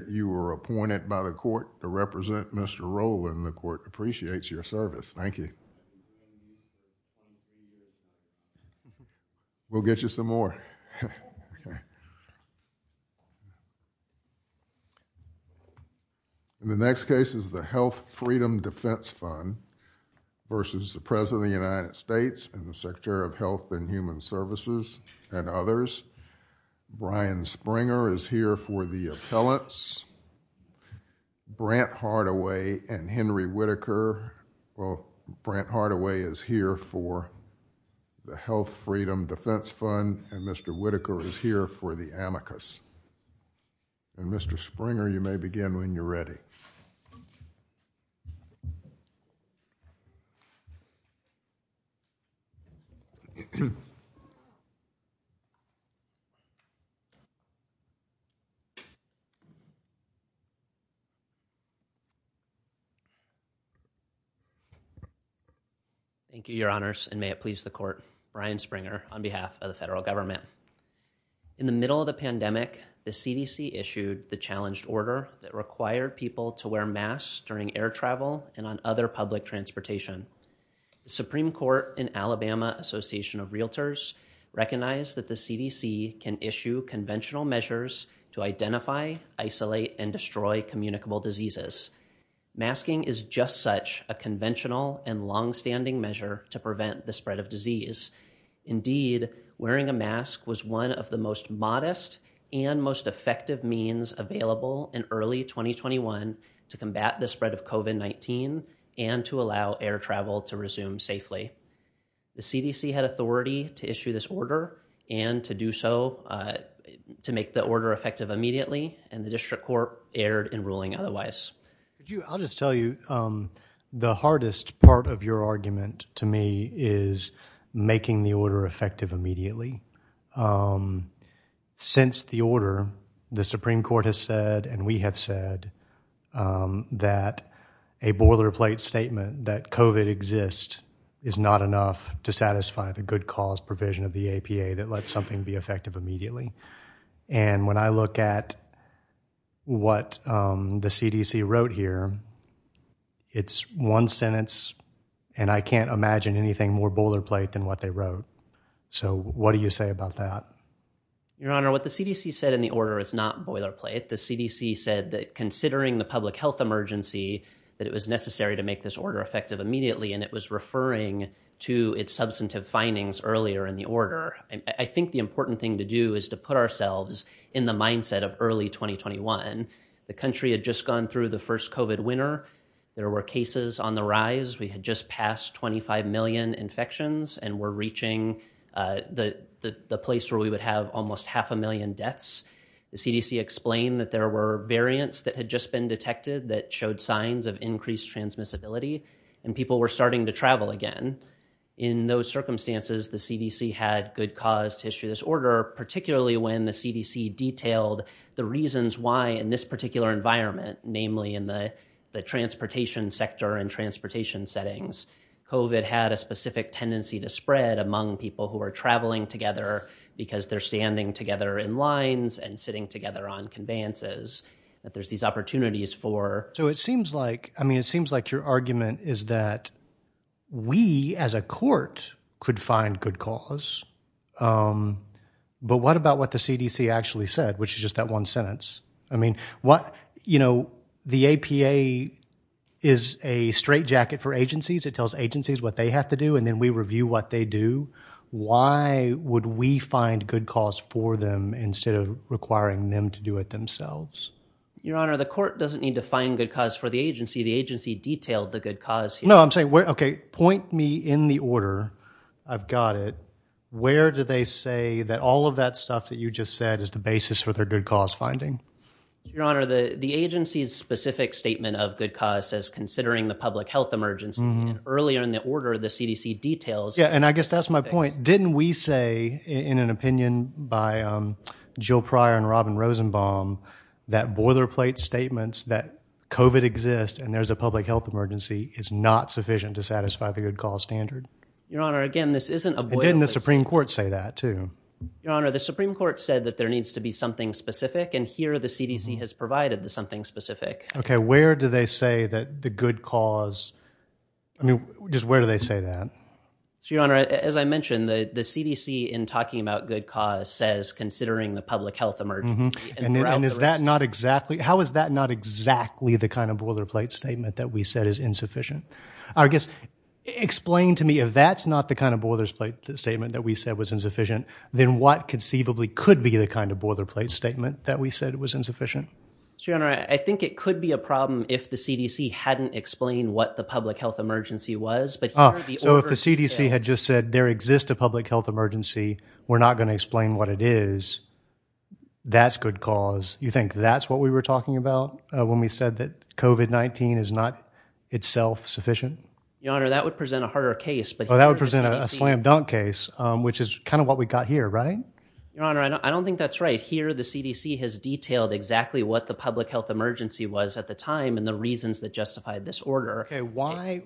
and the Secretary of Health and Human Services, and others. Brian Springer is here for the Amicus. Brant Hardaway and Henry Whittaker, well, Brant Hardaway is here for the Health Freedom Defense Fund, and Mr. Whittaker is here for the Amicus. And Mr. Springer, you may be seated. Thank you, Your Honors, and may it please the Court, Brian Springer on behalf of the federal government. In the middle of the pandemic, the CDC issued the challenge order that required people to wear masks during air travel and on other public transportation. The Supreme Court in Alabama Association of Realtors recognized that the CDC can issue conventional measures to identify, isolate, and destroy communicable diseases. Masking is just such a conventional and long-standing measure to prevent the spread of disease. Indeed, wearing a mask was one of the most modest and most effective means available in early 2021 to combat the spread of COVID-19 and to allow air travel to resume safely. The CDC had authority to issue this order and to do so to make the order effective immediately, and the District Court erred in ruling otherwise. I'll just tell you, the hardest part of your argument to me is making the order a boilerplate statement that COVID exists is not enough to satisfy the good cause provision of the APA that lets something be effective immediately. And when I look at what the CDC wrote here, it's one sentence, and I can't imagine anything more boilerplate than what they wrote. So what do you say about that? Your Honor, what the CDC said in the order is not boilerplate. The CDC said that considering the public health emergency that it was necessary to make this order effective immediately, and it was referring to its substantive findings earlier in the order. I think the important thing to do is to put ourselves in the mindset of early 2021. The country had just gone through the first COVID winter. There were cases on the rise. We had just passed 25 million infections and were reaching the place where we would have almost half a million deaths. The CDC explained that there were variants that had just been detected that showed signs of increased transmissibility, and people were starting to travel again. In those circumstances, the CDC had good cause to issue this order, particularly when the CDC detailed the reasons why in this particular environment, namely in the transportation sector and transportation settings, COVID had a specific tendency to spread among people who are standing together in lines and sitting together on conveyances. So it seems like your argument is that we as a court could find good cause, but what about what the CDC actually said, which is just that one sentence? The APA is a straitjacket for agencies. It tells agencies what they have to do, and then we review what they do. Why would we find good cause for them instead of requiring them to do it themselves? Your Honor, the court doesn't need to find good cause for the agency. The agency detailed the good cause. No, I'm saying, okay, point me in the order. I've got it. Where do they say that all of that stuff that you just said is the basis for their good cause finding? Your Honor, the agency's specific statement of good cause says considering the CDC details- Yeah, and I guess that's my point. Didn't we say in an opinion by Jill Pryor and Robin Rosenbaum that boilerplate statements that COVID exists and there's a public health emergency is not sufficient to satisfy the good cause standard? Your Honor, again, this isn't- Didn't the Supreme Court say that too? Your Honor, the Supreme Court said that there needs to be something specific, and here the CDC has provided something specific. Okay, where do they say that the good cause, I mean, just where do they say that? Your Honor, as I mentioned, the CDC in talking about good cause says considering the public health emergency- And is that not exactly, how is that not exactly the kind of boilerplate statement that we said is insufficient? I guess, explain to me if that's not the kind of boilerplate statement that we said was insufficient, then what conceivably could be the kind of boilerplate statement that we said was insufficient? Your Honor, I think it could be a problem if the CDC hadn't explained what the public health emergency was, but here the- So if the CDC had just said there exists a public health emergency, we're not going to explain what it is, that's good cause. You think that's what we were talking about when we said that COVID-19 is not itself sufficient? Your Honor, that would present a harder case, but- Oh, that would present a slam dunk case, which is kind of what we got here, right? Your Honor, I don't think that's right. Here, the CDC has detailed exactly what the public health emergency was at the time and the reasons that justified this order. Okay, why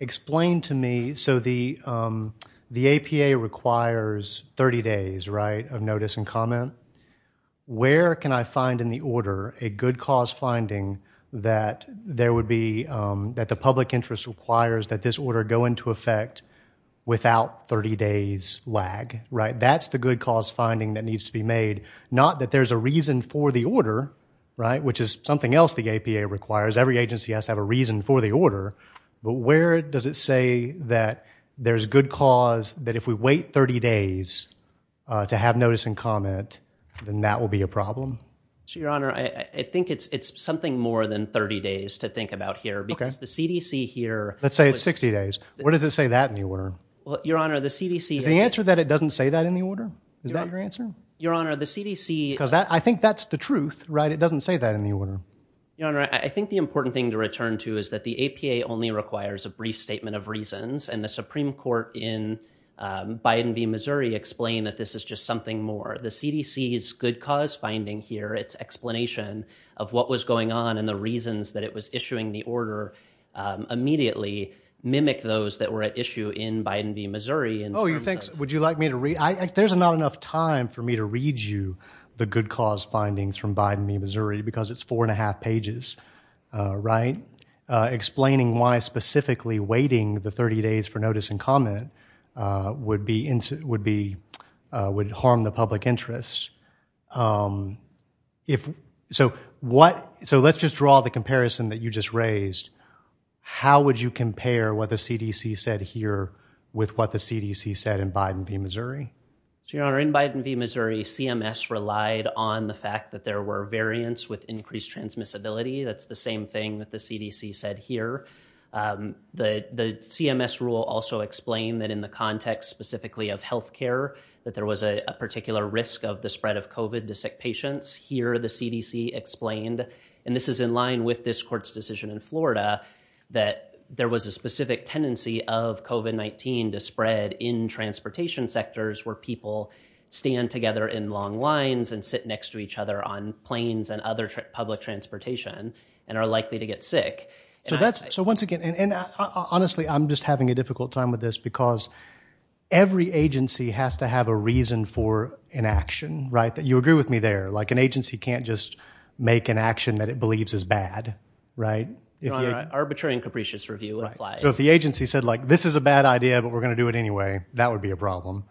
explain to me, so the APA requires 30 days, right, of notice and comment. Where can I find in the order a good cause finding that there would be, that the public interest requires that this order go into effect without 30 days lag, right? That's the good cause finding that needs to be made, not that there's a reason for the order, right, which is something else the APA requires. Every agency has to have a reason for the order, but where does it say that there's good cause that if we wait 30 days to have notice and comment, then that will be a problem? Your Honor, I think it's something more than 30 days to think about here because the CDC here- Let's say it's 60 days. Where does it say that in the order? Your Honor, the CDC- The answer is that it doesn't say that in the order. Is that your answer? Your Honor, the CDC- Because I think that's the truth, right? It doesn't say that in the order. Your Honor, I think the important thing to return to is that the APA only requires a brief statement of reasons and the Supreme Court in Biden v. Missouri explained that this is just something more. The CDC's good cause finding here, its explanation of what was going on and the reasons that it was issuing the order immediately mimic those that were at issue in Biden v. Missouri- Would you like me to read? There's not enough time for me to read you the good cause findings from Biden v. Missouri because it's four and a half pages, right? Explaining why specifically waiting the 30 days for notice and comment would harm the public interest. So let's just draw the Biden v. Missouri. Your Honor, in Biden v. Missouri, CMS relied on the fact that there were variants with increased transmissibility. That's the same thing that the CDC said here. The CMS rule also explained that in the context specifically of healthcare, that there was a particular risk of the spread of COVID to sick patients. Here the CDC explained, and this is in line with this court's decision in transportation sectors, where people stand together in long lines and sit next to each other on planes and other public transportation and are likely to get sick. So once again, and honestly, I'm just having a difficult time with this because every agency has to have a reason for an action, right? You agree with me there, like an agency can't just make an action that it believes is bad, right? Arbitrary and capricious review applies. If the agency said like, this is a bad idea, but we're going to do it anyway, that would be a problem.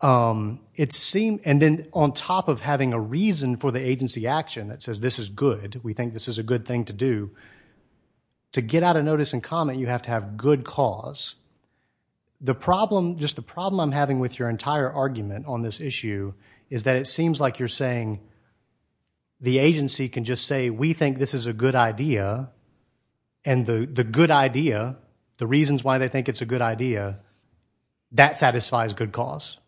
And then on top of having a reason for the agency action that says, this is good, we think this is a good thing to do, to get out of notice and comment, you have to have good cause. Just the problem I'm having with your entire argument on this issue is that it seems like you're saying the agency can just say, we think this is a good idea, and the good idea, the reasons why they think it's a good idea, that satisfies good cause.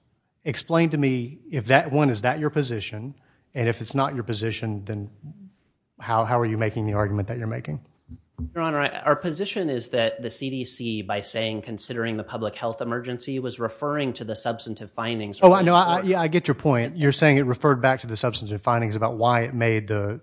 Explain to me if that one, is that your position? And if it's not your position, then how are you making the argument that you're making? Your Honor, our position is that the CDC, by saying considering the public health emergency, was referring to the substantive findings. Oh, I know. Yeah, I get your point. You're saying it referred back to the substantive findings about why it made the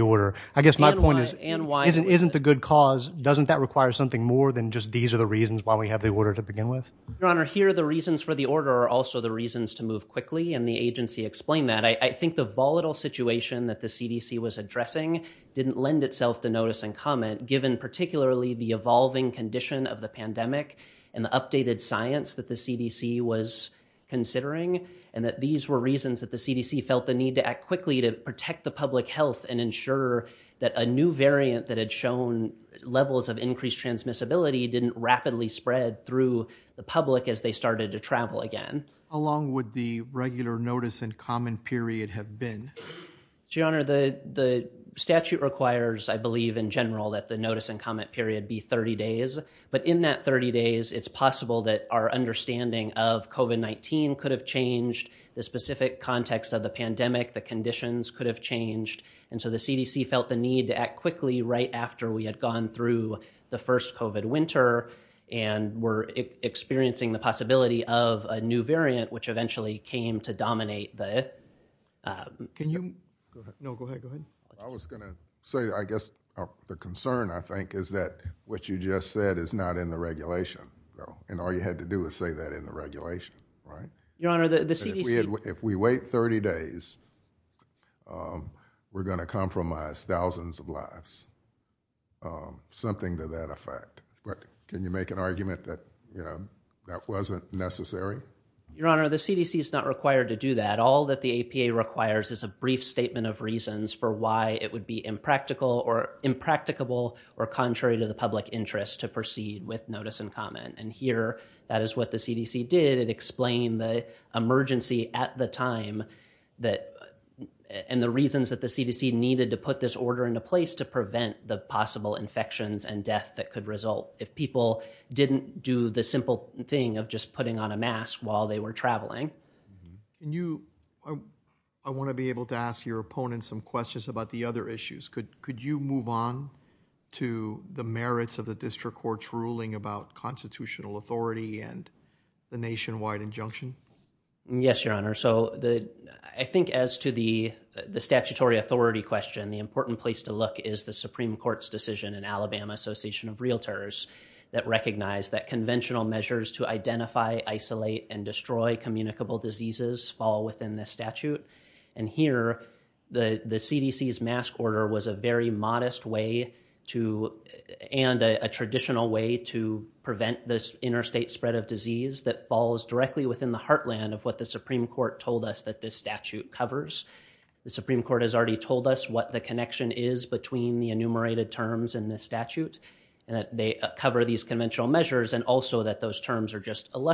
order. I guess my point is, isn't the good cause, doesn't that require something more than just these are the reasons why we have the order to begin with? Your Honor, here the reasons for the order are also the reasons to move quickly, and the agency explained that. I think the volatile situation that the CDC was addressing didn't lend itself to notice and comment, given particularly the evolving condition of the pandemic, and the updated science that the CDC was considering, and that these were reasons that the CDC felt the need to act quickly to protect the public health and ensure that a new variant that had shown levels of increased transmissibility didn't rapidly spread through the public as they started to travel again. How long would the regular notice and comment period have been? Your Honor, the statute requires, I believe in general, that the notice and comment period be 30 days, but in that 30 days, it's possible that our understanding of COVID-19 could have changed, the specific context of the pandemic, the conditions could have changed, and so the CDC felt the need to act quickly right after we had gone through the first COVID winter and were experiencing the possibility of a new variant, which eventually came to dominate the... Can you... No, go ahead, go ahead. I was going to say, I guess the concern, I think, is that what you just said is not in the regulation, and all you had to do is say that in the regulation, right? Your Honor, the CDC... If we wait 30 days, we're going to compromise thousands of lives, something to that effect. Can you make an argument that that wasn't necessary? Your Honor, the CDC is not required to do that. All that the APA requires is a brief statement of reasons for why it would be impractical or impracticable or contrary to the public interest to proceed with the CDC did. It explained the emergency at the time and the reasons that the CDC needed to put this order into place to prevent the possible infections and death that could result if people didn't do the simple thing of just putting on a mask while they were traveling. I want to be able to ask your opponent some questions about the other issues. Could you move on to the merits of the district court's ruling about constitutional authority and the nationwide injunction? Yes, Your Honor. I think as to the statutory authority question, the important place to look is the Supreme Court's decision in Alabama Association of Realtors that recognized that conventional measures to identify, isolate, and destroy communicable diseases fall within the statute. Here, the CDC's mask order was a very modest way and a traditional way to prevent this interstate spread of disease that falls directly within the heartland of what the Supreme Court told us that this statute covers. The Supreme Court has already told us what the connection is between the enumerated terms in the statute, that they cover these conventional measures, and also that those terms are just full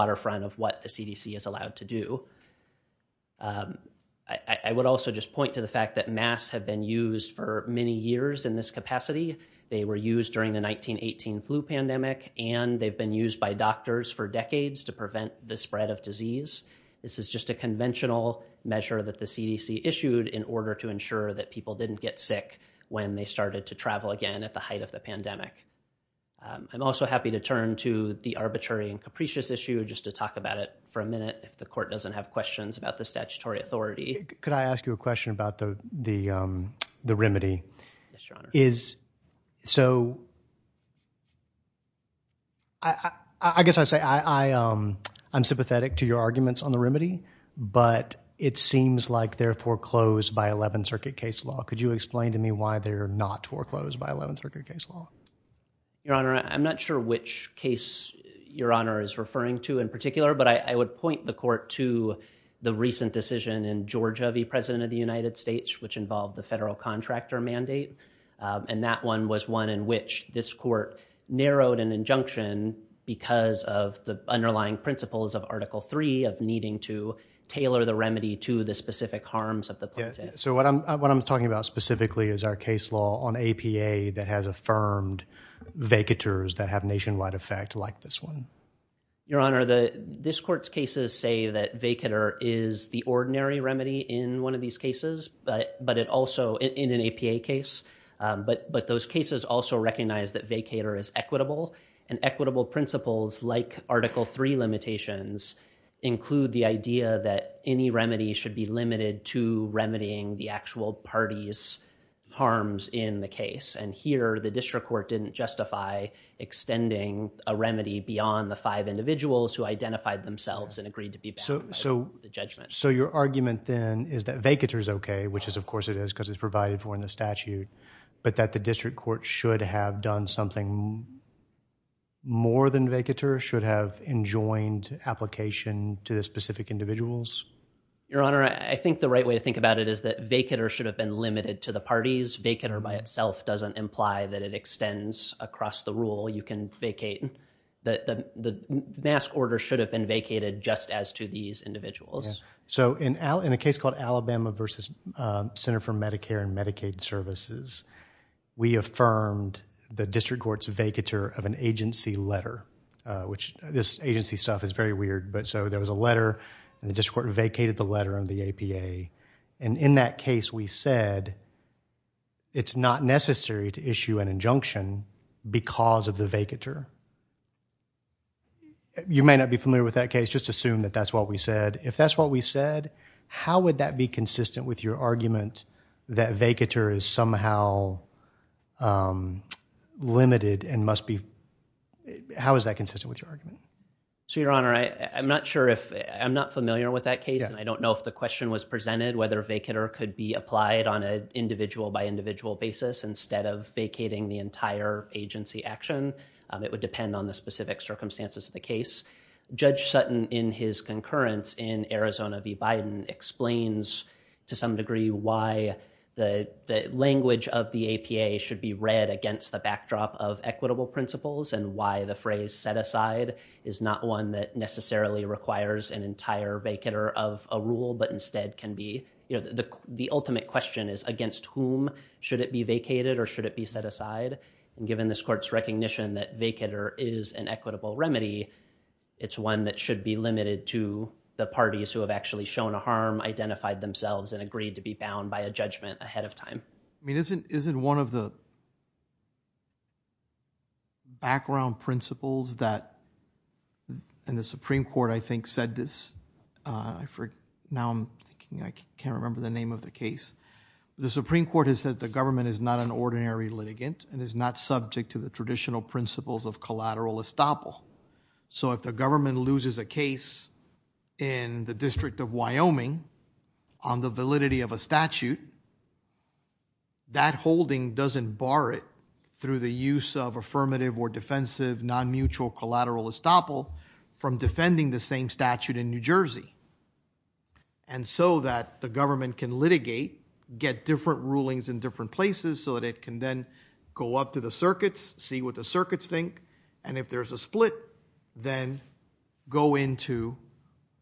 waterfront of what the CDC is allowed to do. I would also just point to the fact that masks have been used for many years in this capacity. They were used during the 1918 flu pandemic, and they've been used by doctors for decades to prevent the spread of disease. This is just a conventional measure that the CDC issued in order to ensure that people didn't get sick when they started to travel again at the height of the pandemic. I'm also happy to turn to the arbitrary and capricious issue just to talk about it for a minute if the court doesn't have questions about the statutory authority. Could I ask you a question about the remedy? I guess I say I'm sympathetic to your arguments on the remedy, but it seems like they're foreclosed by 11th Circuit case law. Could you explain to me why they're not foreclosed by 11th Circuit case law? Your Honor, I'm not sure which case your Honor is referring to in particular, but I would point the court to the recent decision in Georgia v. President of the United States, which involved the federal contractor mandate. That one was one in which this court narrowed an injunction because of the underlying principles of Article III of needing to tailor the remedy to the specific harms of the pandemic. What I'm talking about specifically is our case law on APA that has affirmed vacators that have nationwide effect like this one. Your Honor, this court's cases say that vacator is the ordinary remedy in one of these cases, but also in an APA case. But those cases also recognize that vacator is equitable, and equitable principles like Article III limitations include the idea that any remedy should be limited to remedying the actual party's case. Here, the district court didn't justify extending a remedy beyond the five individuals who identified themselves and agreed to be vaccinated. So your argument then is that vacator is okay, which of course it is because it's provided for in the statute, but that the district court should have done something more than vacator, should have enjoined application to the specific individuals? Your Honor, I think the right way to think about it is that vacator should have been limited to the parties. Vacator by itself doesn't imply that it extends across the rule. You can vacate. The mask order should have been vacated just as to these individuals. So in a case called Alabama versus Center for Medicare and Medicaid Services, we affirmed the district court's vacator of an agency letter, which this agency stuff is very weird, but so there was a letter and the district court vacated the letter in the APA, and in that case we said it's not necessary to issue an injunction because of the vacator. You may not be familiar with that case. Just assume that that's what we said. If that's what we said, how would that be consistent with your argument that vacator is somehow limited and must be, how is that consistent with your argument? So Your Honor, I'm not sure if, I'm not familiar with that case, and I don't know if the question was presented whether vacator could be applied on an individual by individual basis instead of vacating the entire agency action. It would depend on the specific circumstances of the case. Judge Sutton in his concurrence in Arizona explains to some degree why the language of the APA should be read against the backdrop of equitable principles and why the phrase set aside is not one that necessarily requires an entire vacator of a rule, but instead can be, you know, the ultimate question is against whom should it be vacated or should it be set aside, and given this court's recognition that vacator is an equitable remedy, it's one that should be limited to the parties who have actually shown a harm, identified themselves, and agreed to be bound by a judgment ahead of time. I mean, isn't one of the background principles that, and the Supreme Court, I think, said this for now, I can't remember the name of the case. The Supreme Court has said the government is an ordinary litigant and is not subject to the traditional principles of collateral estoppel. So if the government loses a case in the District of Wyoming on the validity of a statute, that holding doesn't bar it through the use of affirmative or defensive non-mutual collateral estoppel from defending the same statute in New Jersey. And so that the government can litigate, get different rulings in different places so that it can then go up to the circuits, see what the circuits think, and if there's a split, then go into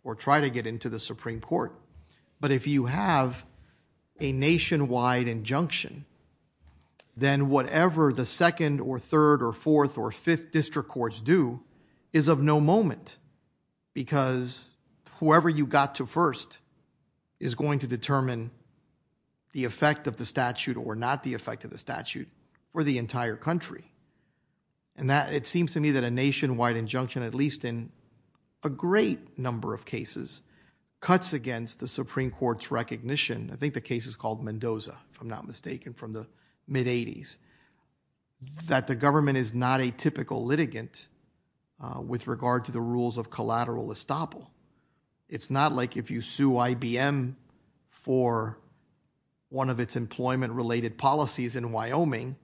or try to get into the Supreme Court. But if you have a nationwide injunction, then whatever the second or third or fourth or fifth district courts do is of no moment, because whoever you got to first is going to determine the effect of the statute or not the effect of the statute for the entire country. And that it seems to me that a nationwide injunction, at least in a great number of cases, cuts against the Supreme Court's recognition. I think the case is called Mendoza, if I'm not mistaken, from the mid 80s, that the government is not a typical litigant with regard to the rules of collateral estoppel. It's not like if you do IBM for one of its employment-related policies in Wyoming,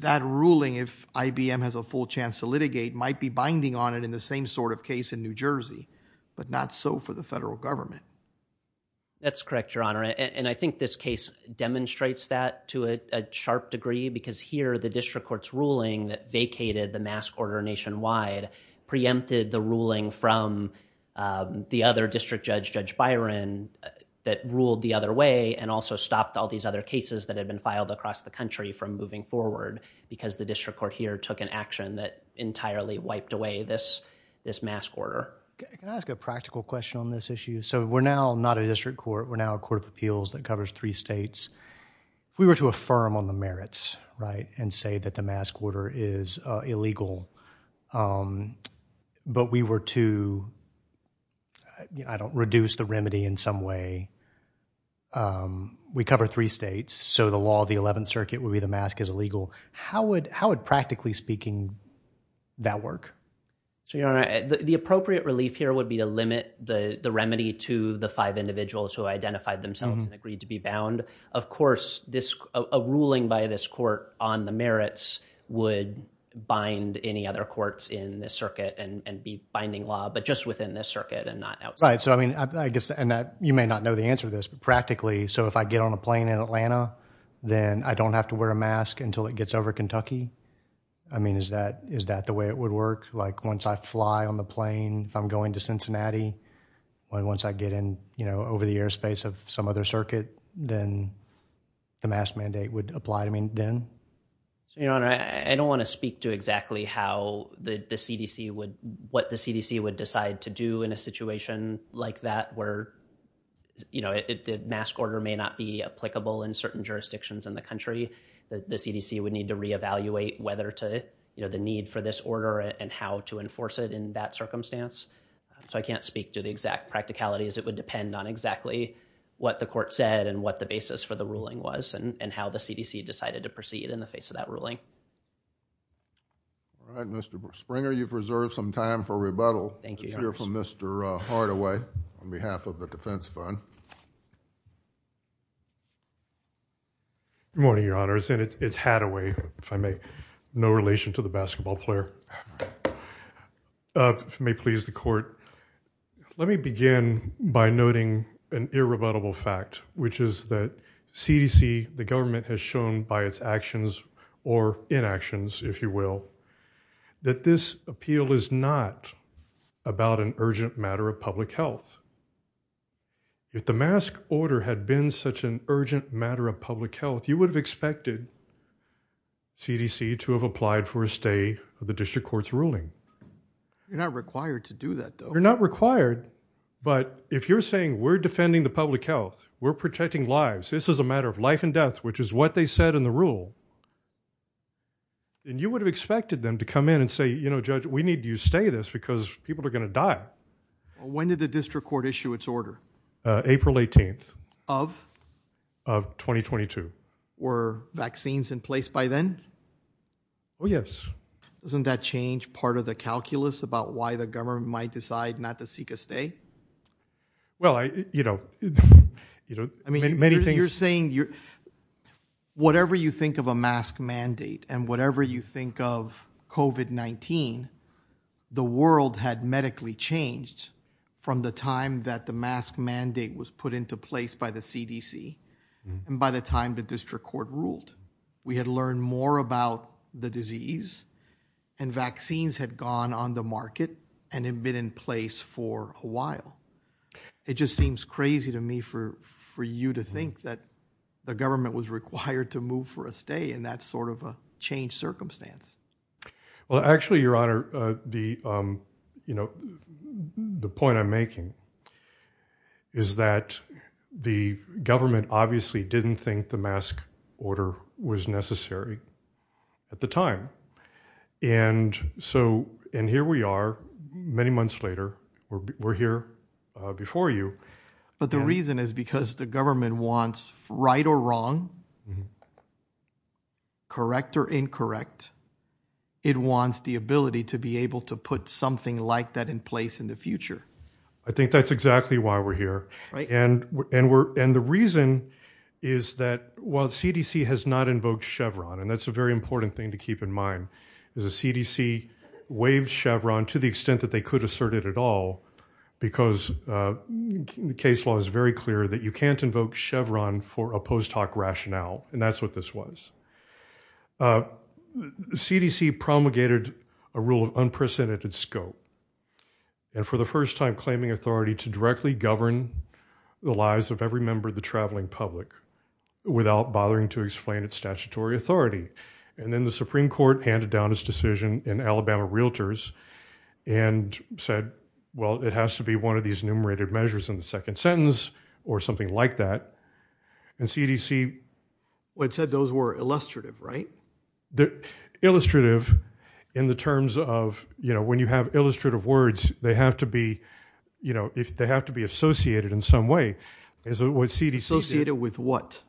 that ruling, if IBM has a full chance to litigate, might be binding on it in the same sort of case in New Jersey, but not so for the federal government. That's correct, Your Honor. And I think this case demonstrates that to a sharp degree because here the district court's ruling that vacated the mask order nationwide preempted the ruling from the other district judge, Judge Byron, that ruled the other way and also stopped all these other cases that had been filed across the country from moving forward because the district court here took an action that entirely wiped away this mask order. Can I ask a practical question on this issue? So we're now not a district court, we're now a court of appeals that covers three states. If we were to affirm on the merits, and say that the mask order is illegal, but we were to reduce the remedy in some way, we cover three states, so the law of the 11th circuit would be the mask is illegal. How would practically speaking that work? The appropriate relief here would be to limit the remedy to the five individuals who identified themselves and agreed to be bound. Of course, a ruling by this court on the merits would bind any other courts in this circuit and be binding law, but just within this circuit and not outside. Right. So I mean, I guess, and you may not know the answer to this, but practically, so if I get on a plane in Atlanta, then I don't have to wear a mask until it gets over Kentucky? I mean, is that the way it would work? Like once I fly on the plane, if I'm going to Cincinnati, once I get in over the airspace of some other circuit, then the mask mandate would apply to me then? Your honor, I don't want to speak to exactly how the CDC would, what the CDC would decide to do in a situation like that, where, you know, the mask order may not be applicable in certain jurisdictions in the country. The CDC would need to reevaluate whether to, you know, the need for this order and how to enforce it in that circumstance. So I can't speak to the exact practicalities. It would depend on exactly what the court said and what the basis for the ruling was and how the CDC decided to proceed in the face of that ruling. All right, Mr. Springer, you've reserved some time for rebuttal. Let's hear from Mr. Hardaway on behalf of the Defense Fund. Good morning, your honors. And it's Hadaway, if I may, no relation to the basketball player. If you may please the court, let me begin by noting an irrebuttable fact, which is that CDC, the government has shown by its actions or inactions, if you will, that this appeal is not about an urgent matter of public health. If the mask order had been such an urgent matter of public health, you would have expected CDC to have applied for a stay of the district court's ruling. You're not required to do that, though. You're not required. But if you're saying we're defending the public health, we're protecting lives. This is a matter of life and death, which is what they said in the rule. And you would have expected them to come in and say, you know, Judge, we need you stay this because people are going to die. When did the district court issue its order? April 18th of of 2022. Were vaccines in place by then? Oh, yes. Wasn't that change part of the calculus about why the government might decide not to seek a stay? Well, you know, I mean, you're saying you're whatever you think of a mask mandate and whatever you think of covid-19, the world had medically changed from the time that the mask mandate was put into place by the CDC. And by the time the district court ruled, we had learned more about the disease and vaccines had gone on the market and had been in place for a while. It just seems crazy to me for for you to think that the government was required to move for a stay in that sort of a changed circumstance. Well, actually, your honor, the you know, the point I'm making is that the government obviously didn't think the mask order was necessary at the time. And so and here we are many months later, we're here before you. But the reason is because the correct or incorrect, it wants the ability to be able to put something like that in place in the future. I think that's exactly why we're here. And and we're and the reason is that while CDC has not invoked Chevron, and that's a very important thing to keep in mind, is the CDC waived Chevron to the extent that they could assert it at all, because the case law is very clear that you can't invoke Chevron for a post hoc rationale. And that's what this was. CDC promulgated a rule of unprecedented scope. And for the first time claiming authority to directly govern the lives of every member of the traveling public, without bothering to explain its statutory authority. And then the Supreme Court handed down his decision and Alabama Realtors and said, well, it has to be one of these numerated measures in the second sentence, or something like that. And CDC, what said those were illustrative, right? That illustrative, in the terms of, you know, when you have illustrative words, they have to be, you know, if they have to be associated in some way, is associated with what?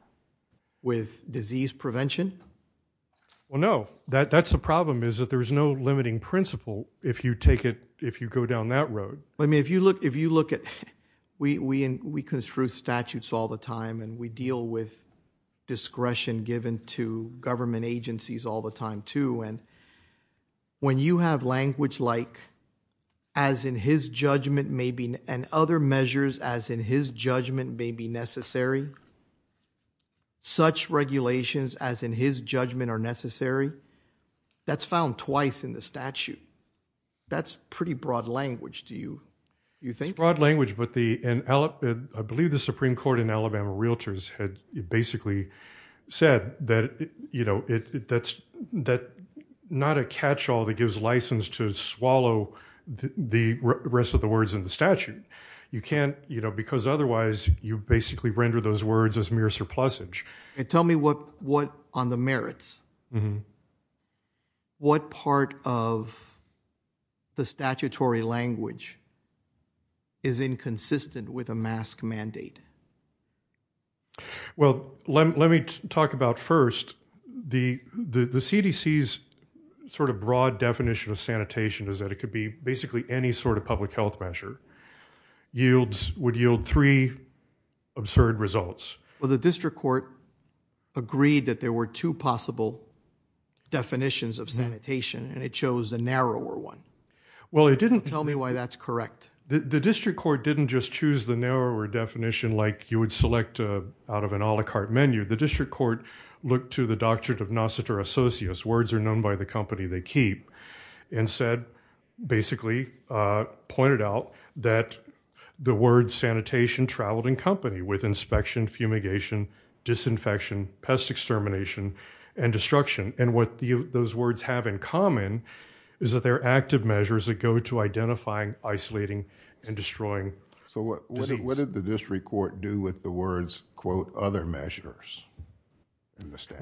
With disease prevention? Well, no, that's the problem, is that there's no limiting principle if you take it, if you go down that road. I mean, if you look, if you look at, we construe statutes all the time, and we deal with discretion given to government agencies all the time, too. And when you have language like, as in his judgment may be, and other measures as in his judgment may be necessary, such regulations as in his judgment are necessary, that's found twice in the statute. That's pretty broad language, do you think? It's broad language, but the, and I believe the Supreme Court in Alabama Realtors had basically said that, you know, that's not a catch-all that gives license to swallow the rest of the words in the statute. You can't, you know, because otherwise you basically render those words as mere surplusage. And tell me what, what on the merits, what part of the statutory language is inconsistent with a mask mandate? Well, let me talk about first, the CDC's sort of broad definition of sanitation is that it could be basically any sort of public health measure. Yields, would yield three absurd results. Well, the district court agreed that there were two possible definitions of sanitation, and it chose the narrower one. Well, it didn't tell me why that's correct. The district court didn't just choose the narrower definition like you would select out of an a la carte menu. The district court looked to the Doctrine of Nocitor Associus, words are known by the company they keep, and said, basically pointed out that the word sanitation traveled in company with inspection, fumigation, disinfection, pest extermination, and destruction. And what those words have in common is that they're active measures that go to identifying, isolating, and destroying disease. So what did the district court do with the words, quote, other measures?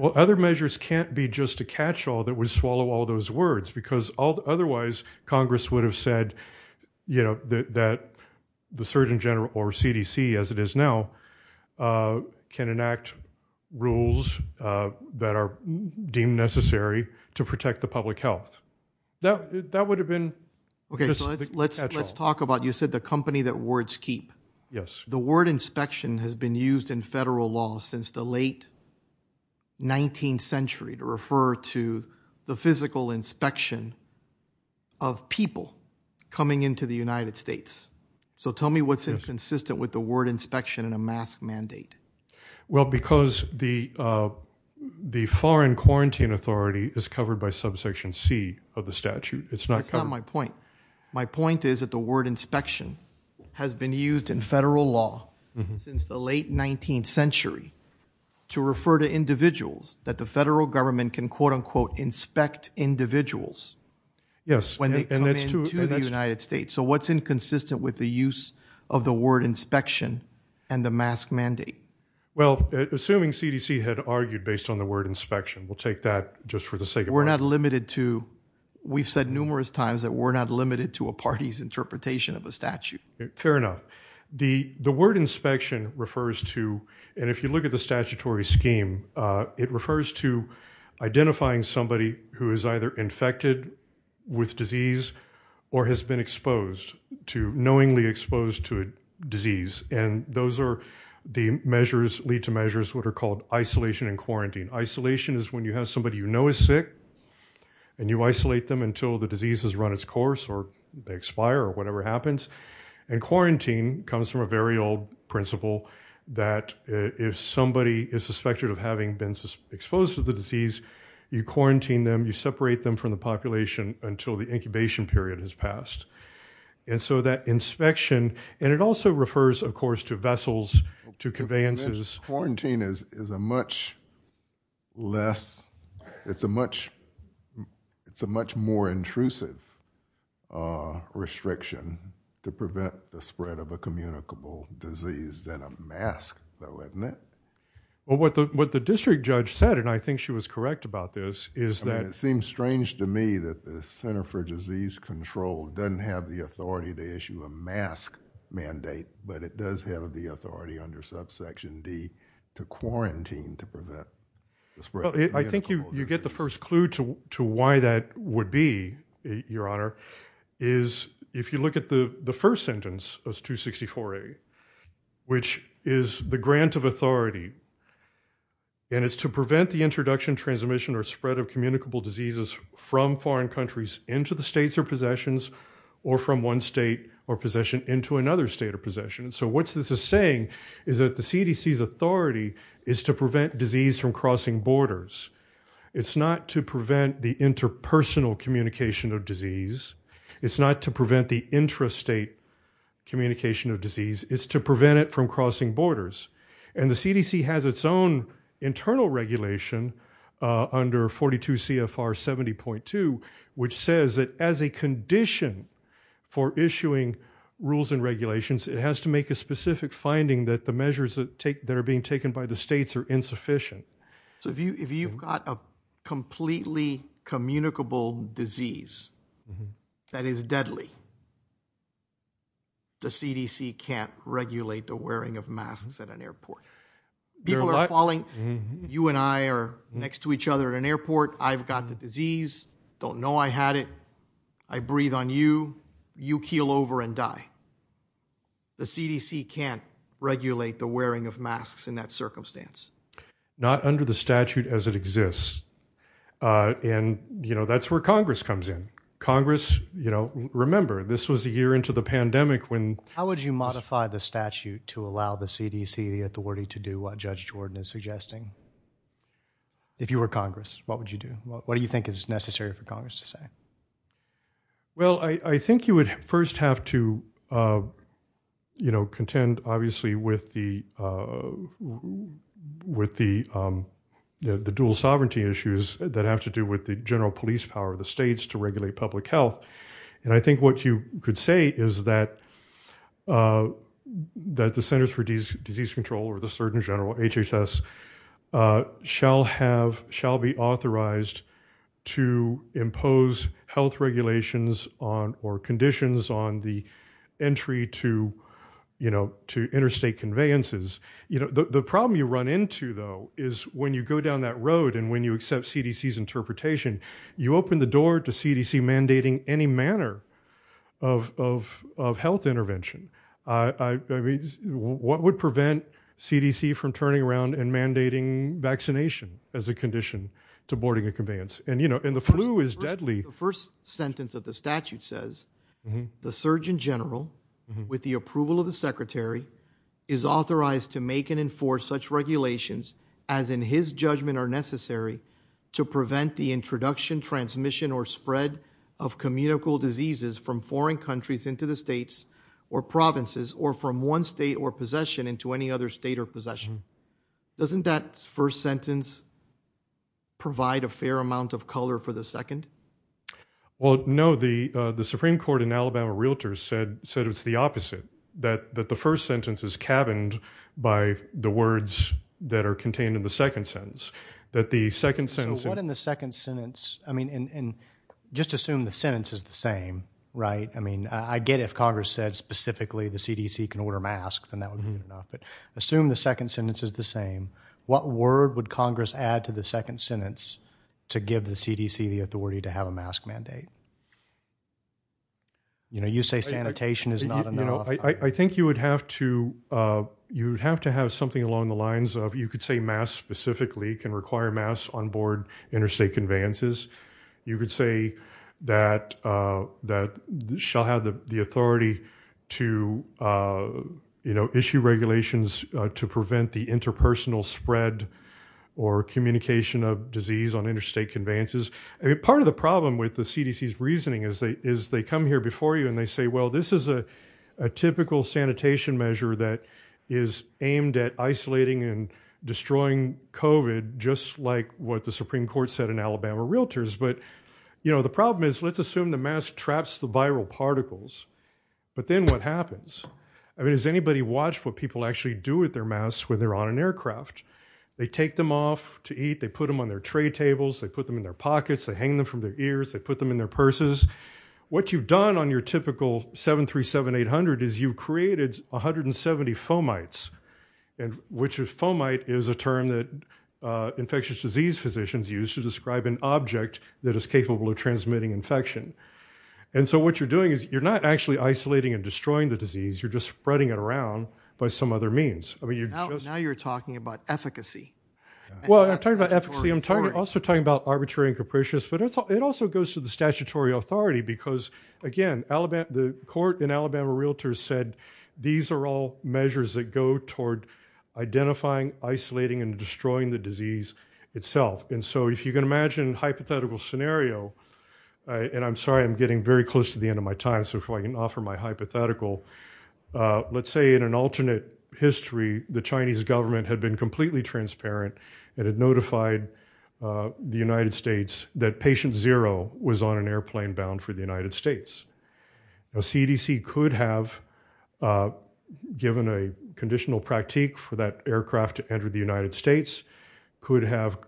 Well, other measures can't be just a catch-all that would swallow all those words, because otherwise, Congress would have said that the Surgeon General or CDC, as it is now, can enact rules that are deemed necessary to protect the public health. That would have been... Okay, so let's talk about, you said the company that wards keep. Yes. The word inspection has been used in federal law since the late 19th century to refer to the physical inspection of people coming into the United States. So tell me what's consistent with the word inspection and a mask mandate? Well, because the foreign quarantine authority is covered by subsection C of the statute. It's not... That's not my point. My point is that the word inspection has been used in federal law since the late 19th century to refer to individuals that the federal government can, quote, unquote, inspect individuals when they come into the United States. So what's inconsistent with the use of the word inspection and the mask mandate? Well, assuming CDC had argued based on the word inspection, we'll take that just for the sake of... We're not limited to... We've said numerous times that we're not limited to a party's interpretation of a statute. Fair enough. The word inspection refers to, and if you look at the statutory scheme, it refers to identifying somebody who is either infected with disease or has been exposed to, knowingly exposed to a disease. And those are the measures, lead to measures, what are called isolation and quarantine. Isolation is when you have somebody you know is sick and you isolate them until the disease has run its course or they expire or whatever happens. And quarantine comes from a very old principle that if somebody is suspected of having been exposed to the disease, you quarantine them, you separate them from the population until the incubation period has passed. And so that inspection... And it also refers, of course, to vessels, to conveyances. Quarantine is a much less... It's a much more intrusive restriction to prevent the spread of a communicable disease than a mask, though, isn't it? Well, what the district judge said, and I think she was correct about this, is that... It seems strange to me that the Center for Disease Control doesn't have the authority to issue a mask mandate, but it does have the authority under subsection D to quarantine to prevent the spread... I think you get the first clue to why that would be, Your Honor, is if you look at the first sentence of 264A, which is the grant of authority, and it's to prevent the introduction, transmission, or spread of communicable diseases from foreign countries into the states or possessions, or from one state or possession into another state or possession. So what this is saying is that the CDC's authority is to prevent disease from crossing borders. It's not to prevent the interpersonal communication of disease. It's not to prevent the intrastate communication of disease. It's to prevent it from crossing borders. And the CDC has its own condition for issuing rules and regulations. It has to make a specific finding that the measures that are being taken by the states are insufficient. So if you've got a completely communicable disease that is deadly, the CDC can't regulate the wearing of masks at an airport. People are calling, you and I are next to each other at an airport, I've got the disease, don't know I had it, I breathe on you, you keel over and die. The CDC can't regulate the wearing of masks in that circumstance. Not under the statute as it exists. And, you know, that's where Congress comes in. Congress, you know, remember, this was a year into the pandemic when... How would you modify the statute to allow the CDC authority to do what Judge Jordan is suggesting? If you were Congress, what would you do? What do you think is necessary for Congress to say? Well, I think you would first have to, you know, contend, obviously, with the dual sovereignty issues that have to do with the general police power of the states to regulate public health. And I think what you could say is that the Centers for Disease Control or the CDC shall have, shall be authorized to impose health regulations on or conditions on the entry to, you know, to interstate conveyances. You know, the problem you run into, though, is when you go down that road, and when you accept CDC's interpretation, you open the door to CDC mandating any manner of health intervention. I mean, what would prevent CDC from turning around and mandating vaccination as a condition to boarding a conveyance? And, you know, and the flu is deadly. The first sentence of the statute says, the Surgeon General, with the approval of the Secretary, is authorized to make and enforce such regulations as in his judgment are necessary to prevent the introduction, transmission, or spread of communicable diseases from foreign countries into the states or provinces or from one state or possession into any other state or possession. Doesn't that first sentence provide a fair amount of color for the second? Well, no, the Supreme Court in Alabama Realtors said it's the opposite, that the first sentence is cabined by the words that are contained in the second sentence, that the second sentence. So what in the second sentence, I mean, and just assume the sentence is the same, right? I mean, I get if Congress said specifically the CDC can order masks and that would be enough, but assume the second sentence is the same, what word would Congress add to the second sentence to give the CDC the authority to have a mask mandate? You know, you say sanitation is not enough. I think you would have to, you'd have to have something along the lines of, you could say masks specifically can require masks on board interstate conveyances. You could say that, that shall have the authority to, you know, issue regulations to prevent the interpersonal spread or communication of disease on interstate conveyances. I mean, part of the problem with the CDC's reasoning is they come here before you and they say, well, this is a typical sanitation measure that is aimed at isolating and destroying COVID just like what the Supreme Court said in Alabama Realtors. But, you know, the problem is let's assume the mask traps the viral particles, but then what happens? I mean, has anybody watched what people actually do with their masks when they're on an aircraft? They take them off to eat, they put them on their tray tables, they put them in their pockets, they hang them from their ears, they put them in their purses. What you've done on your typical 737-800 is you've created 170 fomites, which is fomite is a term that infectious disease physicians use to describe an object that is capable of transmitting infection. And so what you're doing is you're not actually isolating and destroying the disease, you're just spreading it around by some other means. Now you're talking about efficacy. Well, I'm talking about efficacy, I'm also talking about arbitrary and capricious, but it also goes to the statutory authority because, again, the court in Alabama Realtors said these are all measures that go toward identifying, isolating, and destroying the disease itself. And so if you can imagine a hypothetical scenario, and I'm sorry, I'm getting very close to the end of my time, so if I can offer my hypothetical, let's say in an alternate history, the Chinese government had been completely transparent and had notified the United States that patient zero was on an airplane bound for the United States. The CDC could have given a conditional practique for that aircraft to enter the United States, could have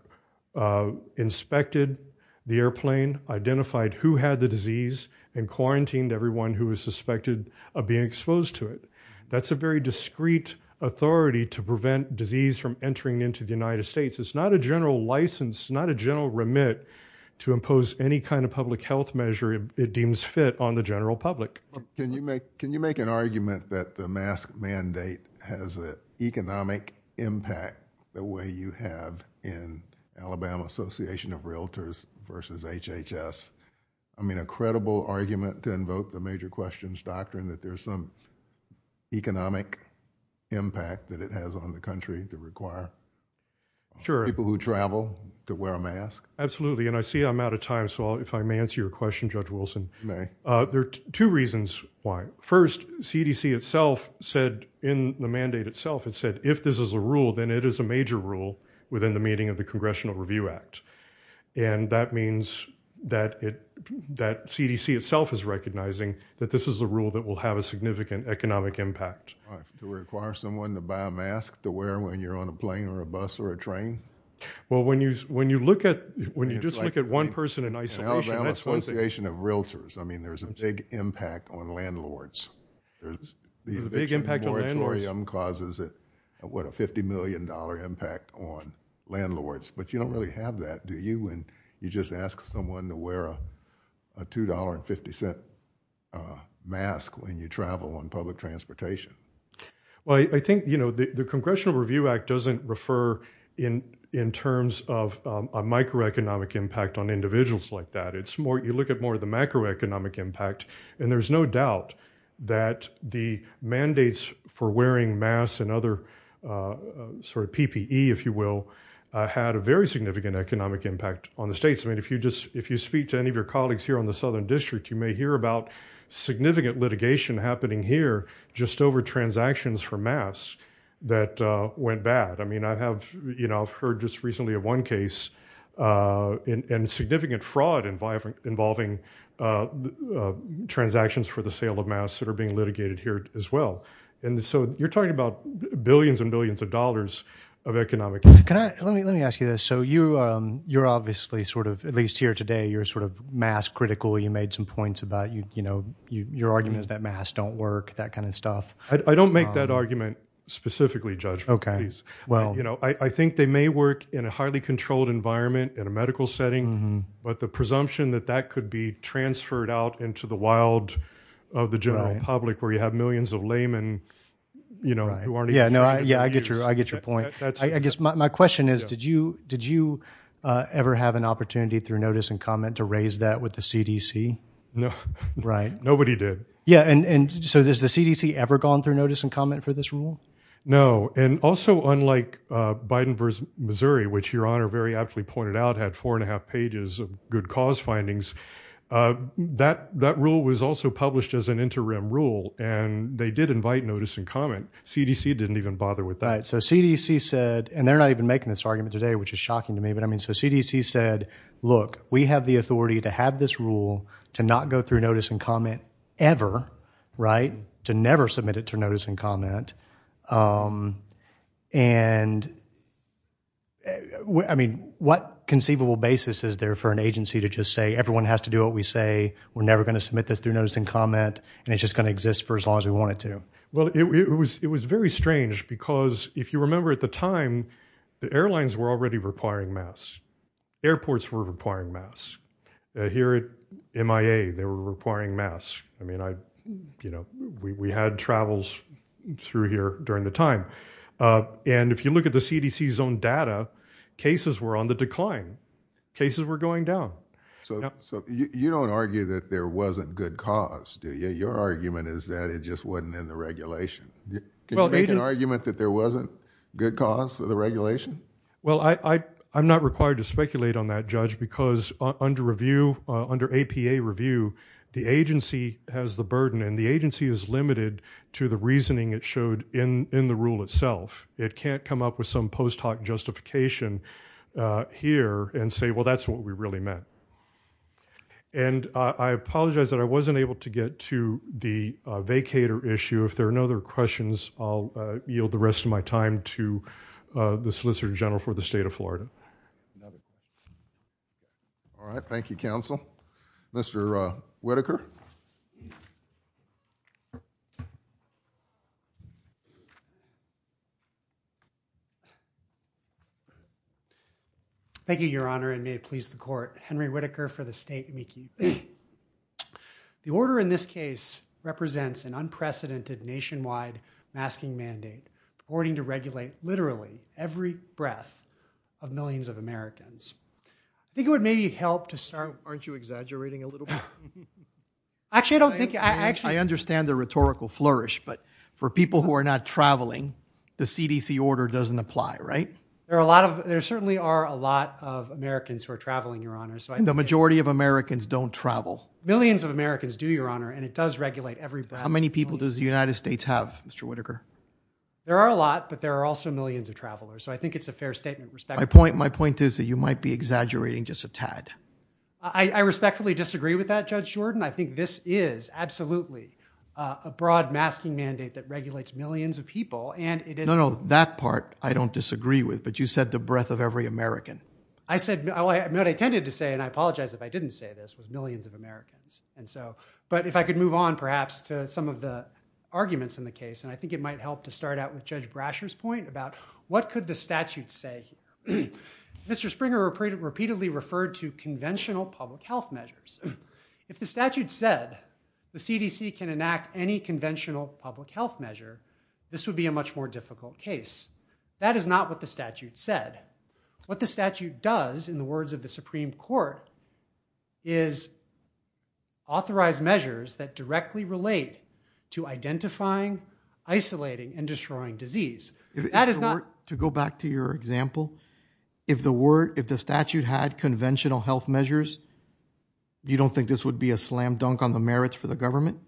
inspected the airplane, identified who had the disease, and quarantined everyone who was suspected of being exposed to it. That's a very discreet authority to prevent disease from entering into the United States. It's not a general license, not a general remit to impose any kind of public health measure it deems fit on the general public. Can you make an argument that the mask mandate has an economic impact the way you have in Alabama Association of Realtors versus HHS? I mean, a credible argument to invoke the major questions doctrine that there's some economic impact that it has on the country to require people who travel to wear a mask? Absolutely, and I see I'm out of time, so if I may answer your question, Judge Wilson. You may. There are two reasons why. First, CDC itself said in the mandate itself, it said if this is a rule, then it is a major rule within the meaning of the Congressional Review Act, and that means that CDC itself is recognizing that this is a rule that will have a significant economic impact. To require someone to buy a mask to wear when you're on a plane or a bus or a train? Well, when you look at, when you just look at one person in isolation, Alabama Association of Realtors, I mean, there's a big impact on landlords. There's a big impact on landlords. Causes a $50 million impact on landlords, but you don't really have that, do you? And you just ask someone to wear a $2.50 mask when you travel on public transportation. Well, I think, you know, the Congressional Review Act doesn't refer in terms of a microeconomic impact on individuals like that. It's more, you look at more of the macroeconomic impact, and there's no doubt that the mandates for wearing masks and other sort of PPE, if you will, had a very significant economic impact on the states. I mean, if you just, if you speak to any of your colleagues here on the Southern District, you may hear about significant litigation happening here just over transactions for masks that went bad. I mean, I have, you know, I've heard just recently of one case and significant fraud involving transactions for the sale of masks that are being litigated here as well. And so you're talking about billions and billions of dollars of economic impact. Let me ask you this. So you're obviously sort of, at least here today, you're sort of mask critical. You made some points about, you know, your argument is that masks don't work, that kind of stuff. I don't make that argument specifically, Judge, please. Well, you know, I think they may work in a highly controlled environment in a medical setting, but the presumption that that could be transferred out into the wild of the general public where you have millions of laymen, you know. Yeah, I get your, I get your point. I guess my question is, did you, did you ever have an opportunity through notice and comment to raise that with the CDC? No, right. Nobody did. Yeah. And so does the CDC ever gone through notice and comment for this rule? No. And also unlike Biden versus Missouri, which your honor very aptly pointed out, had four and they did invite notice and comment. CDC didn't even bother with that. So CDC said, and they're not even making this argument today, which is shocking to me, but I mean, so CDC said, look, we have the authority to have this rule, to not go through notice and comment ever, right. To never submit it to notice and comment. And I mean, what conceivable basis is there for an agency to just say, everyone has to do what we say. We're never going to submit this through notice and comment. And it's just going to exist for as long as we want it to. Well, it was, it was very strange because if you remember at the time, the airlines were already requiring masks. Airports were requiring masks. Here at MIA, they were requiring masks. I mean, I, you know, we, we had travels through here during the time. And if you look at the CDC's own data, cases were on the decline, cases were going down. So, so you don't argue that there wasn't good cause, do you? Your argument is that it just wasn't in the regulation. Can you make an argument that there wasn't good cause of the regulation? Well, I, I, I'm not required to speculate on that judge because under review, under APA review, the agency has the burden and the agency is limited to the reasoning it showed in, in the rule itself. It can't come up with some post hoc justification here and say, well, that's what we really meant. And I apologize that I wasn't able to get to the vacator issue. If there are no other questions, I'll yield the rest of my time to the Solicitor General for the state of Florida. All right. Thank you, counsel. Mr. Whitaker. Thank you, your honor, and may it please the court. Henry Whitaker for the state. The order in this case represents an unprecedented nationwide masking mandate, according to regulate literally every breath of millions of Americans. I think it would maybe help to start, aren't you exaggerating a little bit? Actually, I don't think, I actually understand the rhetorical flourish, but for people who are not traveling, the CDC order doesn't apply, right? There are a lot of, there certainly are a lot of Americans who are traveling, your honor. The majority of Americans don't travel. Millions of Americans do, your honor, and it does regulate every breath. How many people does the United States have, Mr. Whitaker? There are a lot, but there are also millions of travelers. So I think it's a fair statement. My point is that you might be exaggerating just a tad. I respectfully disagree with that, Judge Jordan. I think this is absolutely a broad masking mandate that regulates millions of people and it. No, no, that part, I don't disagree with, but you said the breath of every American. I said what I intended to say, and I apologize if I didn't say this with millions of Americans. And so, but if I could move on perhaps to some of the arguments in the case, and I think it might help to start out with Judge Brasher's point about what could the statute say? Mr. Springer repeatedly referred to conventional public health measures. If the statute said the CDC can enact any conventional public health measure, this would be a much more difficult case. That is not what the statute said. What the statute does, in the words of the Supreme Court, is authorize measures that directly relate to identifying, isolating, and destroying disease. That is not- To go back to your example, if the statute had conventional health measures, you don't think this would be a slam dunk on the merits for the government?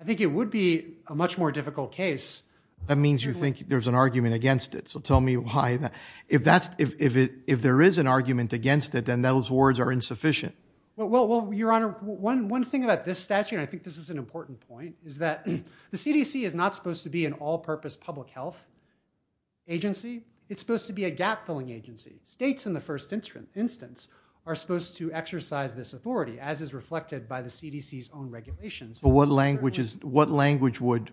I think it would be a much more difficult case. That means you think there's an argument against it. So tell me why that, if there is an argument against it, then those words are insufficient. Well, your honor, one thing about this statute, and I think this is an important point, is that the CDC is not supposed to be an all-purpose public health agency. It's supposed to be a gap-filling agency. States, in the first instance, are supposed to exercise this authority, as is reflected by the CDC's own regulations. What language would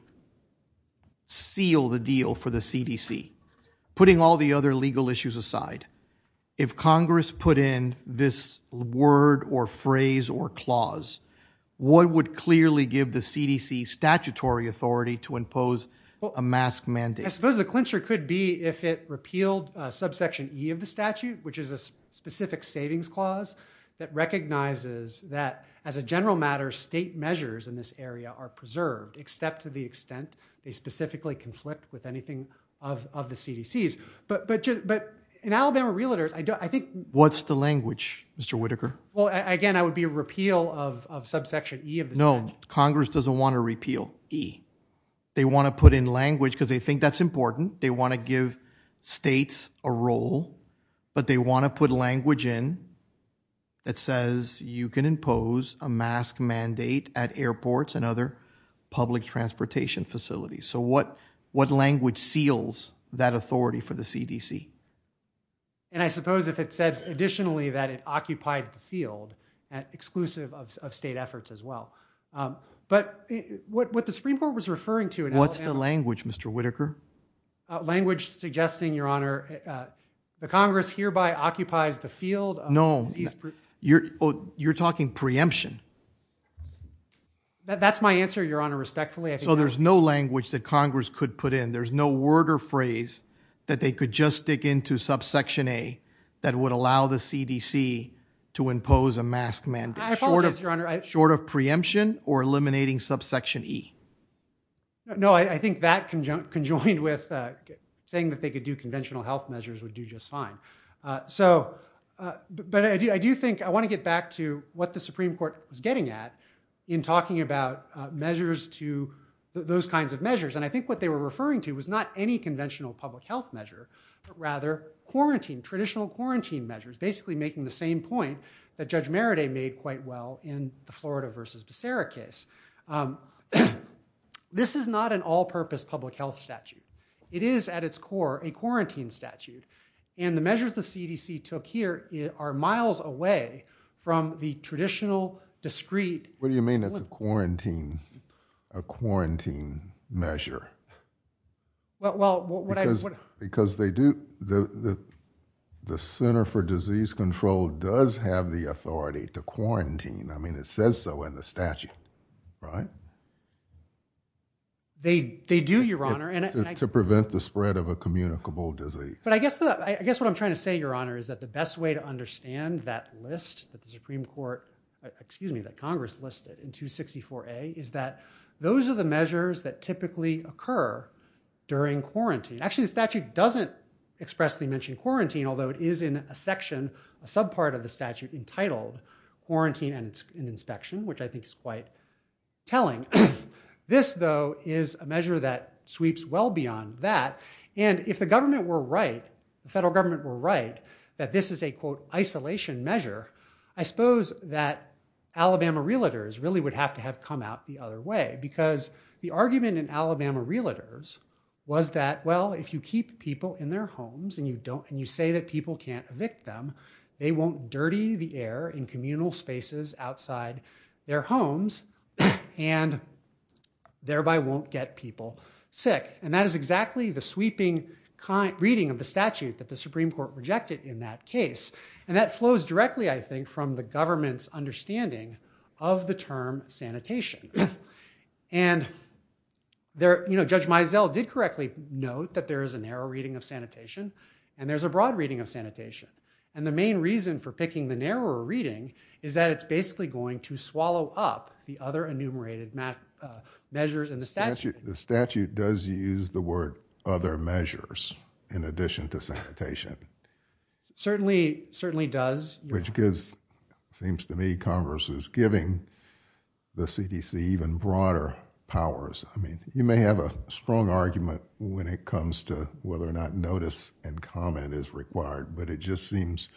seal the deal for the CDC? Putting all the other legal issues aside, if Congress put in this word or phrase or clause, what would clearly give the CDC statutory authority to impose a mask mandate? I suppose the clincher could be if it repealed subsection E of the statute, which is a specific savings clause that recognizes that, as a general matter, state measures in this area are preserved, except to the extent they specifically conflict with anything of the CDC's. But in Alabama Realtors, I think... What's the language, Mr. Whitaker? Well, again, that would be a repeal of subsection E of the statute. No, Congress doesn't want to repeal E. They want to put in language, because they think that's important. They want to give states a role, but they want to put language in that says you can impose a mask mandate at airports and other public transportation facilities. So what language seals that authority for the CDC? And I suppose if it says, additionally, that it occupied the field, that's exclusive of state efforts as well. But what the Supreme Court was referring to... What's the language, Mr. Whitaker? Language suggesting, Your Honor, the Congress hereby occupies the field... No, you're talking preemption. That's my answer, Your Honor, respectfully. So there's no language that Congress could put in. There's no word or phrase that they could just stick into subsection A that would allow the CDC to impose a mask mandate, short of preemption or eliminating subsection E. No, I think that conjoined with saying that they could do conventional health measures would do just fine. But I do think I want to get back to what the Supreme Court is getting at in talking about those kinds of measures. And I think what they were referring to was not any conventional public health measure, but rather traditional quarantine measures, basically making the same point that Judge Meredith made quite well in the Florida v. Becerra case. This is not an all-purpose public health statute. It is, at its core, a quarantine statute. And the measures the CDC took here are miles away from the traditional discrete... What do you mean it's a quarantine measure? Because they do, the Center for Disease Control does have the authority to quarantine. I mean, it says so in the statute, right? They do, Your Honor, and... To prevent the spread of a communicable disease. But I guess what I'm trying to say, Your Honor, is that the best way to understand that list that the Supreme Court, excuse me, that Congress listed in 264A is that those are the measures that typically occur during quarantine. Actually, the statute doesn't expressly mention quarantine, although it is in a section, a subpart of the statute entitled Quarantine and Inspection, which I think is quite telling. This, though, is a measure that sweeps well beyond that. And if the government were right, the federal government were right, that this is a, quote, isolation measure, I suppose that Alabama realtors really would have to have come out the other way. Because the argument in Alabama realtors was that, well, if you keep people in their homes and you say that people can't evict them, they won't dirty the air in communal spaces outside their homes and thereby won't get people sick. And that is exactly the sweeping reading of the statute that the Supreme Court rejected in that case. And that flows directly, I think, from the government's understanding of the term sanitation. And there, you know, Judge Mizell did correctly note that there is a narrow reading of sanitation and there's a broad reading of sanitation. And the main reason for picking the narrower reading is that it's basically going to swallow up the other enumerated measures in the statute. The statute does use the word other measures in addition to sanitation. Certainly, certainly does. Which gives, seems to me, Congress is giving the CDC even broader powers. I mean, you may have a strong argument when it comes to whether or not notice and comment is required, but it just seems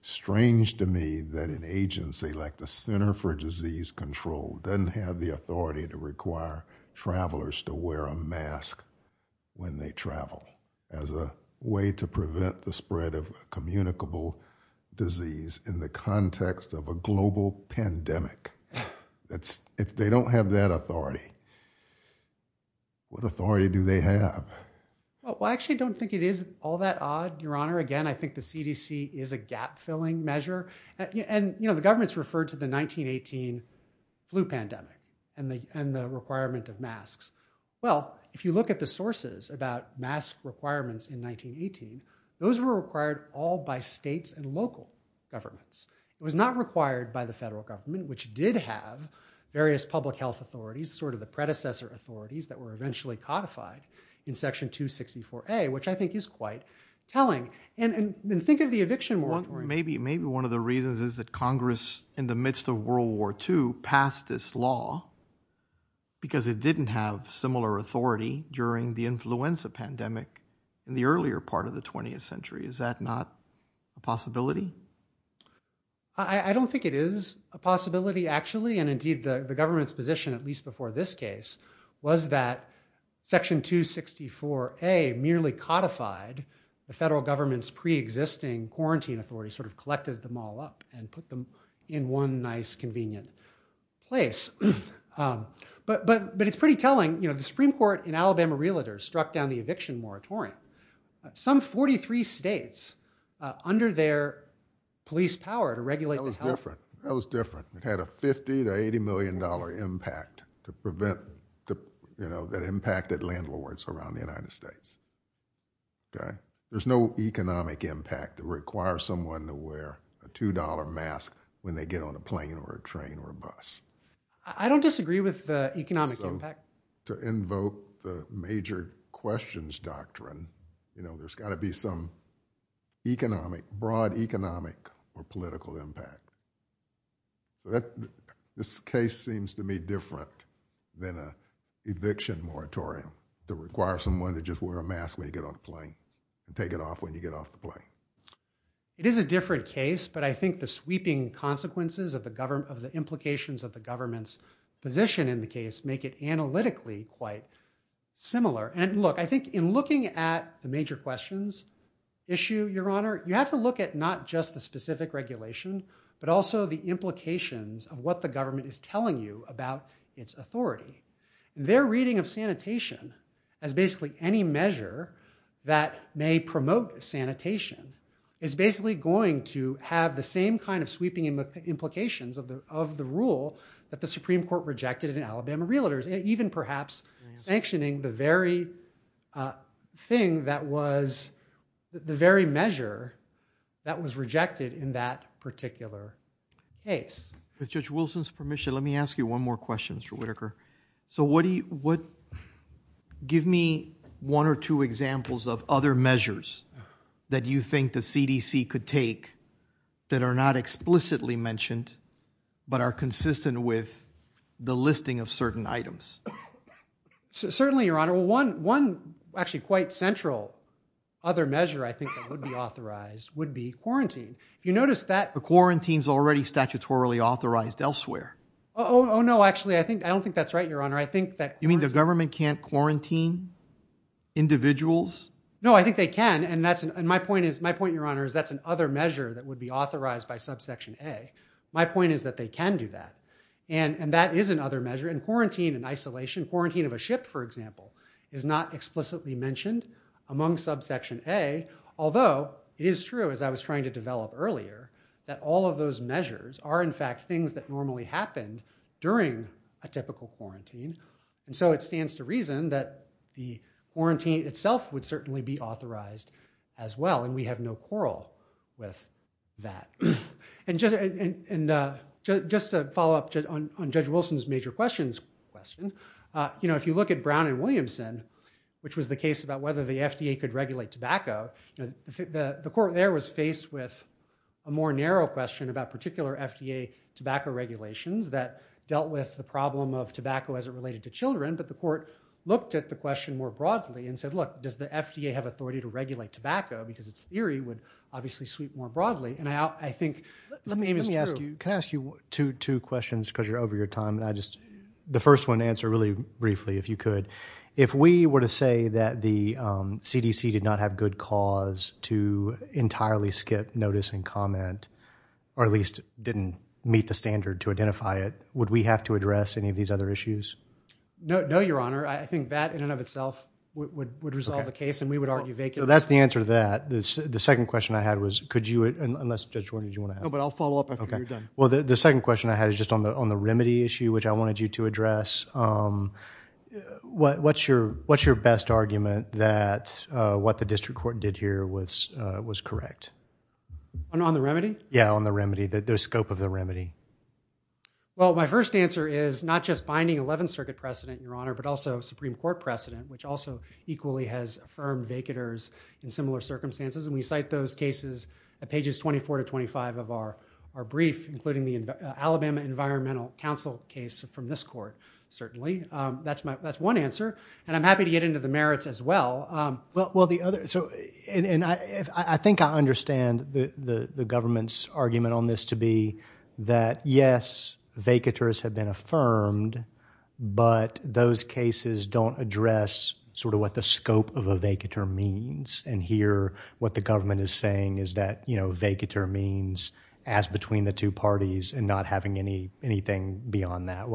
strange to me that an agency like the Center for Disease Control doesn't have the authority to require travelers to wear a mask when they travel as a way to prevent the spread of communicable disease in the context of a global pandemic. That's, they don't have that authority. What authority do they have? Well, I actually don't think it is all that odd, Your Honor. Again, I think the CDC is a gap-filling measure. And, you know, the government's referred to the 1918 flu pandemic and the requirement of requirements in 1918. Those were required all by states and local governments. It was not required by the federal government, which did have various public health authorities, sort of the predecessor authorities that were eventually codified in section 264A, which I think is quite telling. And think of the eviction moratorium. Maybe one of the reasons is that Congress in the midst of World War II passed this law because it didn't have similar authority during the influenza pandemic in the earlier part of the 20th century. Is that not a possibility? I don't think it is a possibility actually. And indeed the government's position, at least before this case, was that section 264A merely codified the federal government's pre-existing quarantine authorities, sort of collected them all up and put them in one nice convenient place. But it's pretty telling, you know, the Supreme Court in Alabama Realtors struck down the eviction moratorium. Some 43 states under their police power to regulate- That was different. That was different. It had a $50 to $80 million impact to prevent, you know, that impacted landlords around the United States. Okay. There's no economic impact to require someone to wear a $2 mask when they get on a plane or a train or a bus. I don't disagree with the economic impact. To invoke the major questions doctrine, you know, there's got to be some economic, broad economic or political impact. This case seems to me different than an eviction moratorium to require someone to just wear a mask when you get on a plane and take it off when you get off a plane. It is a different case, but I think the sweeping consequences of the government, of the implications of the government's position in the case make it analytically quite similar. And look, I think in looking at the major questions issue, your honor, you have to look at not just the specific regulation, but also the implications of what the government is telling you about its authority. Their reading of sanitation as basically any measure that may promote sanitation is basically going to have the same kind of sweeping implications of the rule that the Supreme Court rejected in Alabama Realtors, even perhaps sanctioning the very thing that was, the very measure that was rejected in that particular case. With Judge Wilson's permission, let me ask you one more question, Mr. Whitaker. So give me one or two examples of other measures that you think the CDC could take that are not explicitly mentioned, but are consistent with the listing of certain items. Certainly, your honor. One actually quite central other measure I think that would be authorized would be quarantine. You notice that- Quarantine is already statutorily authorized elsewhere. Oh, no, actually, I don't think that's right, your honor. I think that- You mean the government can't quarantine individuals? No, I think they can. And my point, your honor, is that's an other measure that would be authorized by subsection A. My point is that they can do that. And that is another measure. And quarantine and isolation, quarantine of a ship, for example, is not explicitly mentioned among subsection A. Although it is true, as I was trying to develop earlier, that all of those measures are in fact things that normally happen during a typical quarantine. And so it stands to reason that the quarantine itself would certainly be authorized as well. And we have no quarrel with that. And just to follow up on Judge Wilson's major question, if you look at Brown and Williamson, which was the case about whether the FDA could regulate tobacco, the court there was faced with a more narrow question about particular FDA tobacco regulations that dealt with the problem of tobacco as it related to children. But the court looked at the question more broadly and said, look, does the FDA have authority to regulate tobacco? Because the theory would obviously sweep more broadly. Now, I think- Let me ask you two questions because you're over your time. The first one, answer really briefly if you could. If we were to say that the CDC did not have good cause to entirely skip notice and comment, or at least didn't meet the standard to identify it, would we have to address any of these other issues? No, your honor. I think that in and of itself would resolve the case and we would argue vacancy. So that's the answer to that. The second question I had was, could you, unless Judge Wood, did you want to ask? No, but I'll follow up after you're done. Well, the second question I had is just on the remedy issue, which I wanted you to address. What's your best argument that what the district court did here was correct? On the remedy? Yeah, on the remedy, the scope of the remedy. Well, my first answer is not just binding 11th Circuit precedent, your honor, but also Supreme Court precedent, which also equally has affirmed vacanters in similar circumstances. And we cite those cases at pages 24 to 25 of our brief, including the Alabama Environmental Council case from this court, certainly. That's one answer. And I'm happy to get into the merits as well. Well, the other, so, and I think I understand the government's argument on this to be that yes, vacanters have been affirmed, but those cases don't address sort of what the scope of a vacanter means. And here, what the government is saying is that, you know, vacanter means as between the two parties and not having anything beyond that.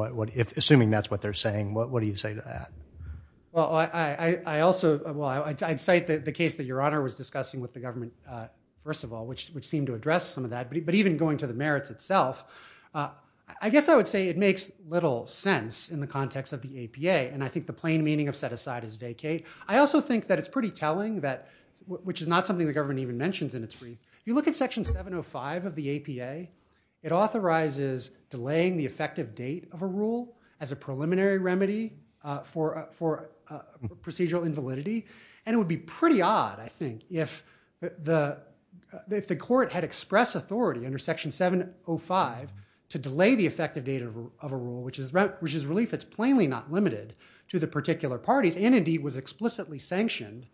Assuming that's what they're saying, what do you say to that? Well, I also, well, I'd cite the case that your honor was discussing with the government, first of all, which would seem to address some of that, but even going to the merits itself, I guess I would say it makes little sense in the context of the APA. And I think the plain meaning of set aside is vacate. I also think that it's pretty telling that, which is not something the government even mentions in its brief. You look at section 705 of the APA, it authorizes delaying the effective date of a rule as a preliminary remedy for procedural invalidity. And it would be pretty odd, I think, if the court had expressed authority under section 705 to delay the effective date of a rule, which is relief that's plainly not limited to the particular parties and indeed was explicitly sanctioned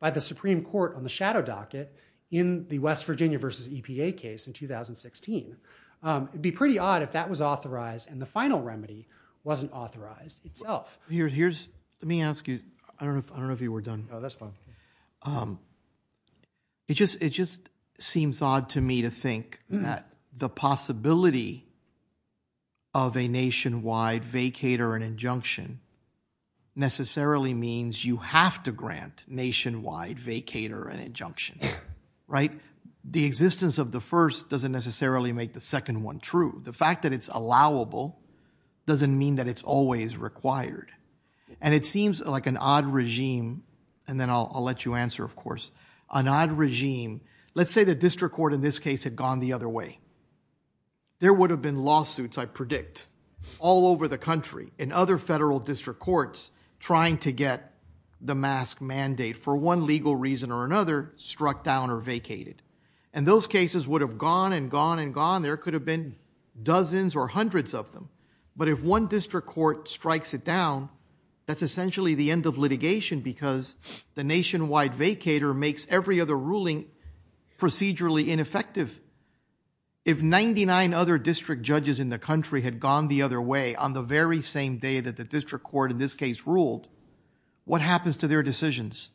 by the Supreme Court on the shadow docket in the West Virginia versus EPA case in wasn't authorized itself. Let me ask you, I don't know if you were done. It just seems odd to me to think that the possibility of a nationwide vacater and injunction necessarily means you have to grant nationwide vacater and injunction, right? The existence of first doesn't necessarily make the second one true. The fact that it's allowable doesn't mean that it's always required. And it seems like an odd regime, and then I'll let you answer, of course, an odd regime. Let's say the district court in this case had gone the other way. There would have been lawsuits, I predict, all over the country and other federal district courts trying to get the mask mandate for one legal reason or another struck down or vacated. And those cases would have gone and gone and gone. There could have been dozens or hundreds of them. But if one district court strikes it down, that's essentially the end of litigation because the nationwide vacater makes every other ruling procedurally ineffective. If 99 other district judges in the country had gone the other way on the very same day that the district court in this case ruled, what happens to their decisions?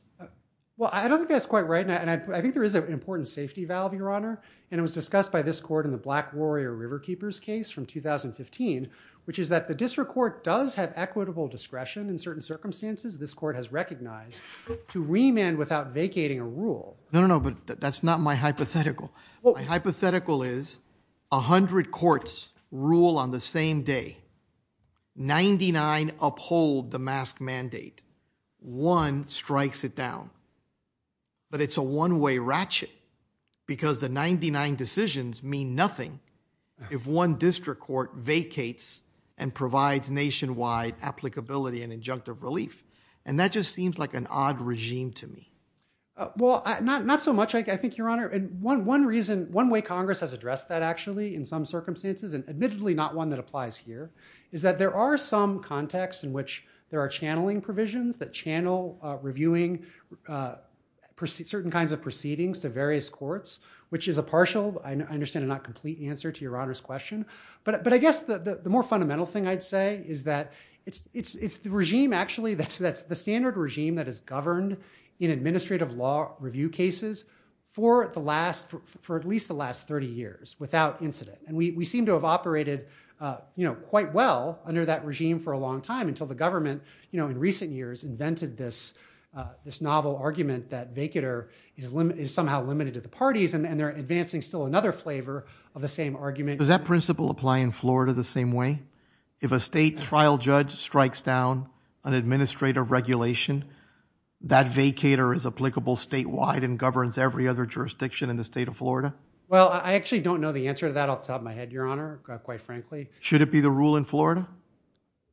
Well, I don't think that's quite right. And I think there is an important safety valve, Your Honor. And it was discussed by this court in the Black Warrior Riverkeepers case from 2015, which is that the district court does have equitable discretion in certain circumstances this court has recognized to remand without vacating a rule. No, no, no. But that's not my hypothetical. My hypothetical is 100 courts rule on the same day. 99 uphold the mask mandate. One strikes it down. But it's a one-way ratchet because the 99 decisions mean nothing if one district court vacates and provides nationwide applicability and injunctive relief. And that just seems like an odd regime to me. Well, not so much, I think, Your Honor. And one reason, one way Congress has addressed that actually in some circumstances, and admittedly not one that applies here, is that there are some contexts in which there are channeling provisions that channel reviewing certain kinds of proceedings to various courts, which is a partial, I understand, and not complete answer to Your Honor's question. But I guess the more fundamental thing I'd say is that it's the regime, actually, that's the standard regime that has governed in administrative law review cases for at least the last 30 years without incident. And we seem to have operated quite well under that regime for a long time until the government in recent years invented this novel argument that vacater is somehow limited to the parties. And they're advancing still another flavor of the same argument. Does that principle apply in Florida the same way? If a state trial judge strikes down an administrative regulation, that vacater is applicable statewide and governs every other jurisdiction in the state of Florida? Well, I actually don't know the answer to that off the top of my head, Your Honor, quite frankly. Should it be the rule in Florida?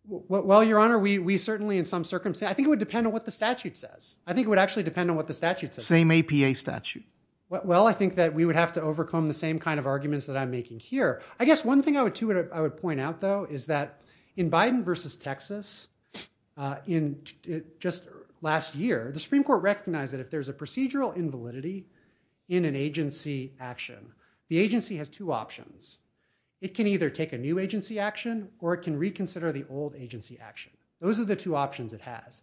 Well, Your Honor, we certainly in some circumstances, I think it would depend on what the statute says. I think it would actually depend on what the statute says. Same APA statute. Well, I think that we would have to overcome the same kind of arguments that I'm making here. I guess one thing I would point out, though, is that in Biden versus Texas, just last year, the Supreme Court recognized that if there's a the agency has two options. It can either take a new agency action, or it can reconsider the old agency action. Those are the two options it has.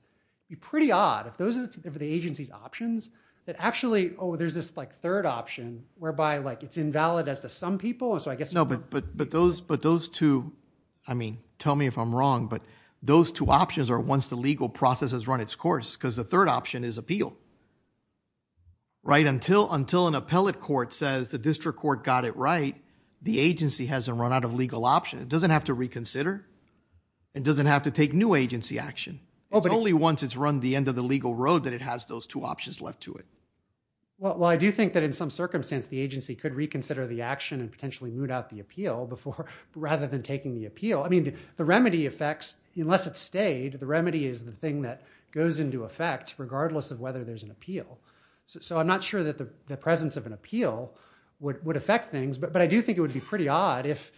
It would be pretty odd if those are the agency's options that actually, oh, there's this third option whereby it's invalid as to some people. And so I guess- No, but those two, I mean, tell me if I'm wrong, but those two options are once the legal process has run its course, because the third option is appeal. Until an district court got it right, the agency hasn't run out of legal option. It doesn't have to reconsider. It doesn't have to take new agency action. It's only once it's run the end of the legal road that it has those two options left to it. Well, I do think that in some circumstances, the agency could reconsider the action and potentially root out the appeal before, rather than taking the appeal. I mean, the remedy affects, unless it's stayed, the remedy is the thing that goes into effect regardless of whether there's an appeal. So I'm not sure that the would affect things, but I do think it would be pretty odd if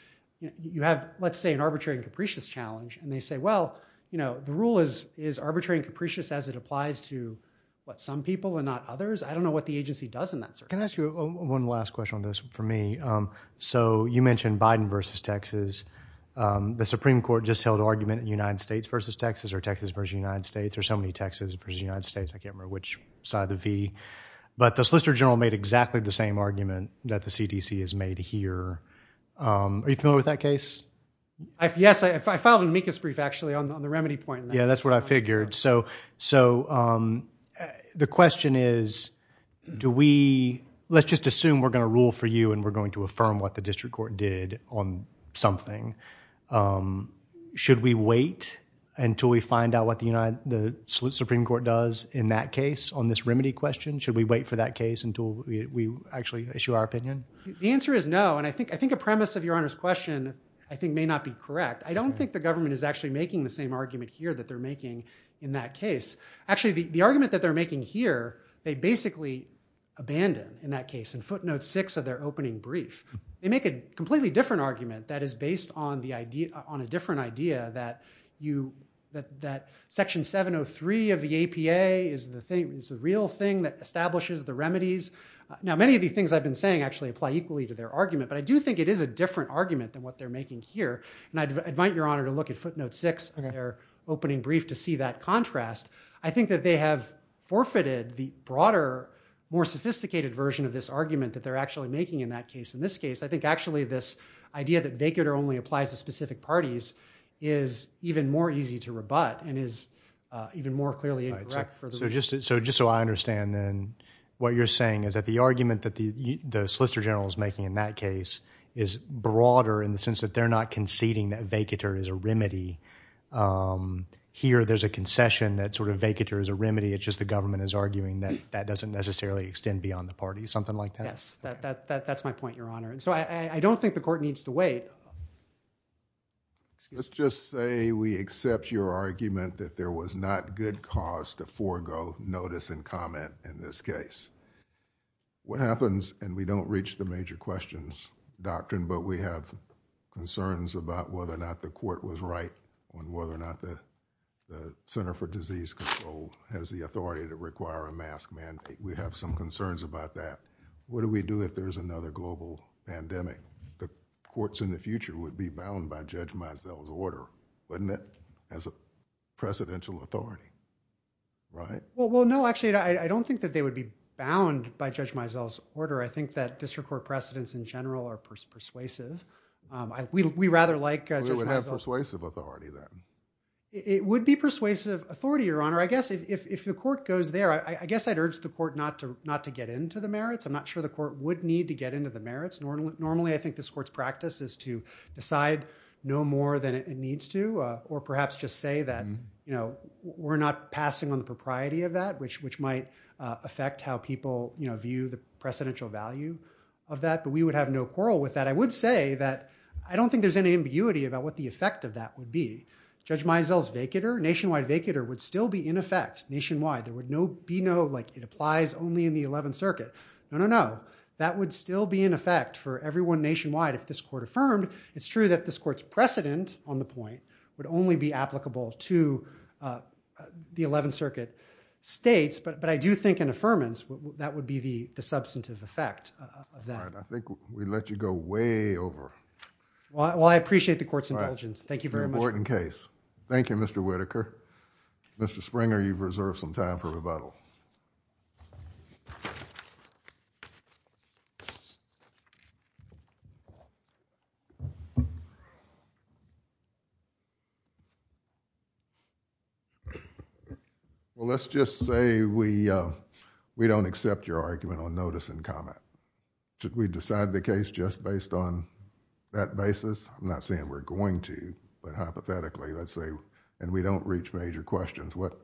you have, let's say, an arbitrary and capricious challenge and they say, well, the rule is arbitrary and capricious as it applies to what some people and not others. I don't know what the agency does in that circumstance. Can I ask you one last question on this for me? So you mentioned Biden versus Texas. The Supreme Court just held argument in the United States versus Texas or Texas versus the United States. There's so many Texas versus the United States, I can't remember which side of the V, but the Solicitor General made exactly the same argument that the CDC has made here. Are you familiar with that case? Yes, I filed an amicus brief actually on the remedy point. Yeah, that's what I figured. So the question is, do we, let's just assume we're going to rule for you and we're going to affirm what the district court did on something. Should we wait until we wait for that case until we actually issue our opinion? The answer is no. And I think a premise of your honest question I think may not be correct. I don't think the government is actually making the same argument here that they're making in that case. Actually, the argument that they're making here, they basically abandoned in that case in footnote six of their opening brief. They make a completely different argument that is based on a different idea that section 703 of the APA is the real thing that establishes the remedies. Now, many of the things I've been saying actually apply equally to their argument, but I do think it is a different argument than what they're making here. And I invite your honor to look at footnote six in their opening brief to see that contrast. I think that they have forfeited the broader, more sophisticated version of this argument that they're actually making in that case. In this case, I think actually this idea that they could only apply to specific parties is even more easy to rebut and is even more clearly incorrect. So just so I understand then what you're saying is that the argument that the solicitor general is making in that case is broader in the sense that they're not conceding that vacatur is a remedy. Here, there's a concession that sort of vacatur is a remedy. It's just the government is arguing that that doesn't necessarily extend beyond the party, something like that. That's my point, your honor. So I don't think the court needs to wait. Let's just say we accept your argument that there was not good cause to forego notice and comment in this case. What happens, and we don't reach the major questions doctrine, but we have concerns about whether or not the court was right on whether or not the Center for Disease Control has the authority to require a mask mandate. We have some concerns about that. What do we do if there's another global pandemic? The courts in the future would be bound by Judge Mizell's order, wouldn't it, as a precedential authority, right? Well, no, actually, I don't think that they would be bound by Judge Mizell's order. I think that district court precedents in general are persuasive. We rather like- We would have persuasive authority then. It would be persuasive authority, your honor. I guess if the court goes there, I guess I'd not to get into the merits. I'm not sure the court would need to get into the merits. Normally, I think this court's practice is to decide no more than it needs to, or perhaps just say that we're not passing on the propriety of that, which might affect how people view the precedential value of that. But we would have no quarrel with that. I would say that I don't think there's any ambiguity about what the effect of that would be. Judge Mizell's vacater, nationwide vacater, would still be in effect nationwide. There would be no, like, it applies only in the 11th Circuit. No, no, no. That would still be in effect for everyone nationwide. If this court affirmed, it's true that this court's precedent on the point would only be applicable to the 11th Circuit states. But I do think in affirmance, that would be the substantive effect of that. All right. I think we let you go way over. Well, I appreciate the court's intelligence. Thank you very much. Very important case. Thank you, Mr. Whitaker. Mr. Springer, you've reserved some time for rebuttal. Well, let's just say we don't accept your argument on notice and comment. Should we decide the case just based on that basis? I'm not saying we're going to, but hypothetically, and we don't reach major questions, what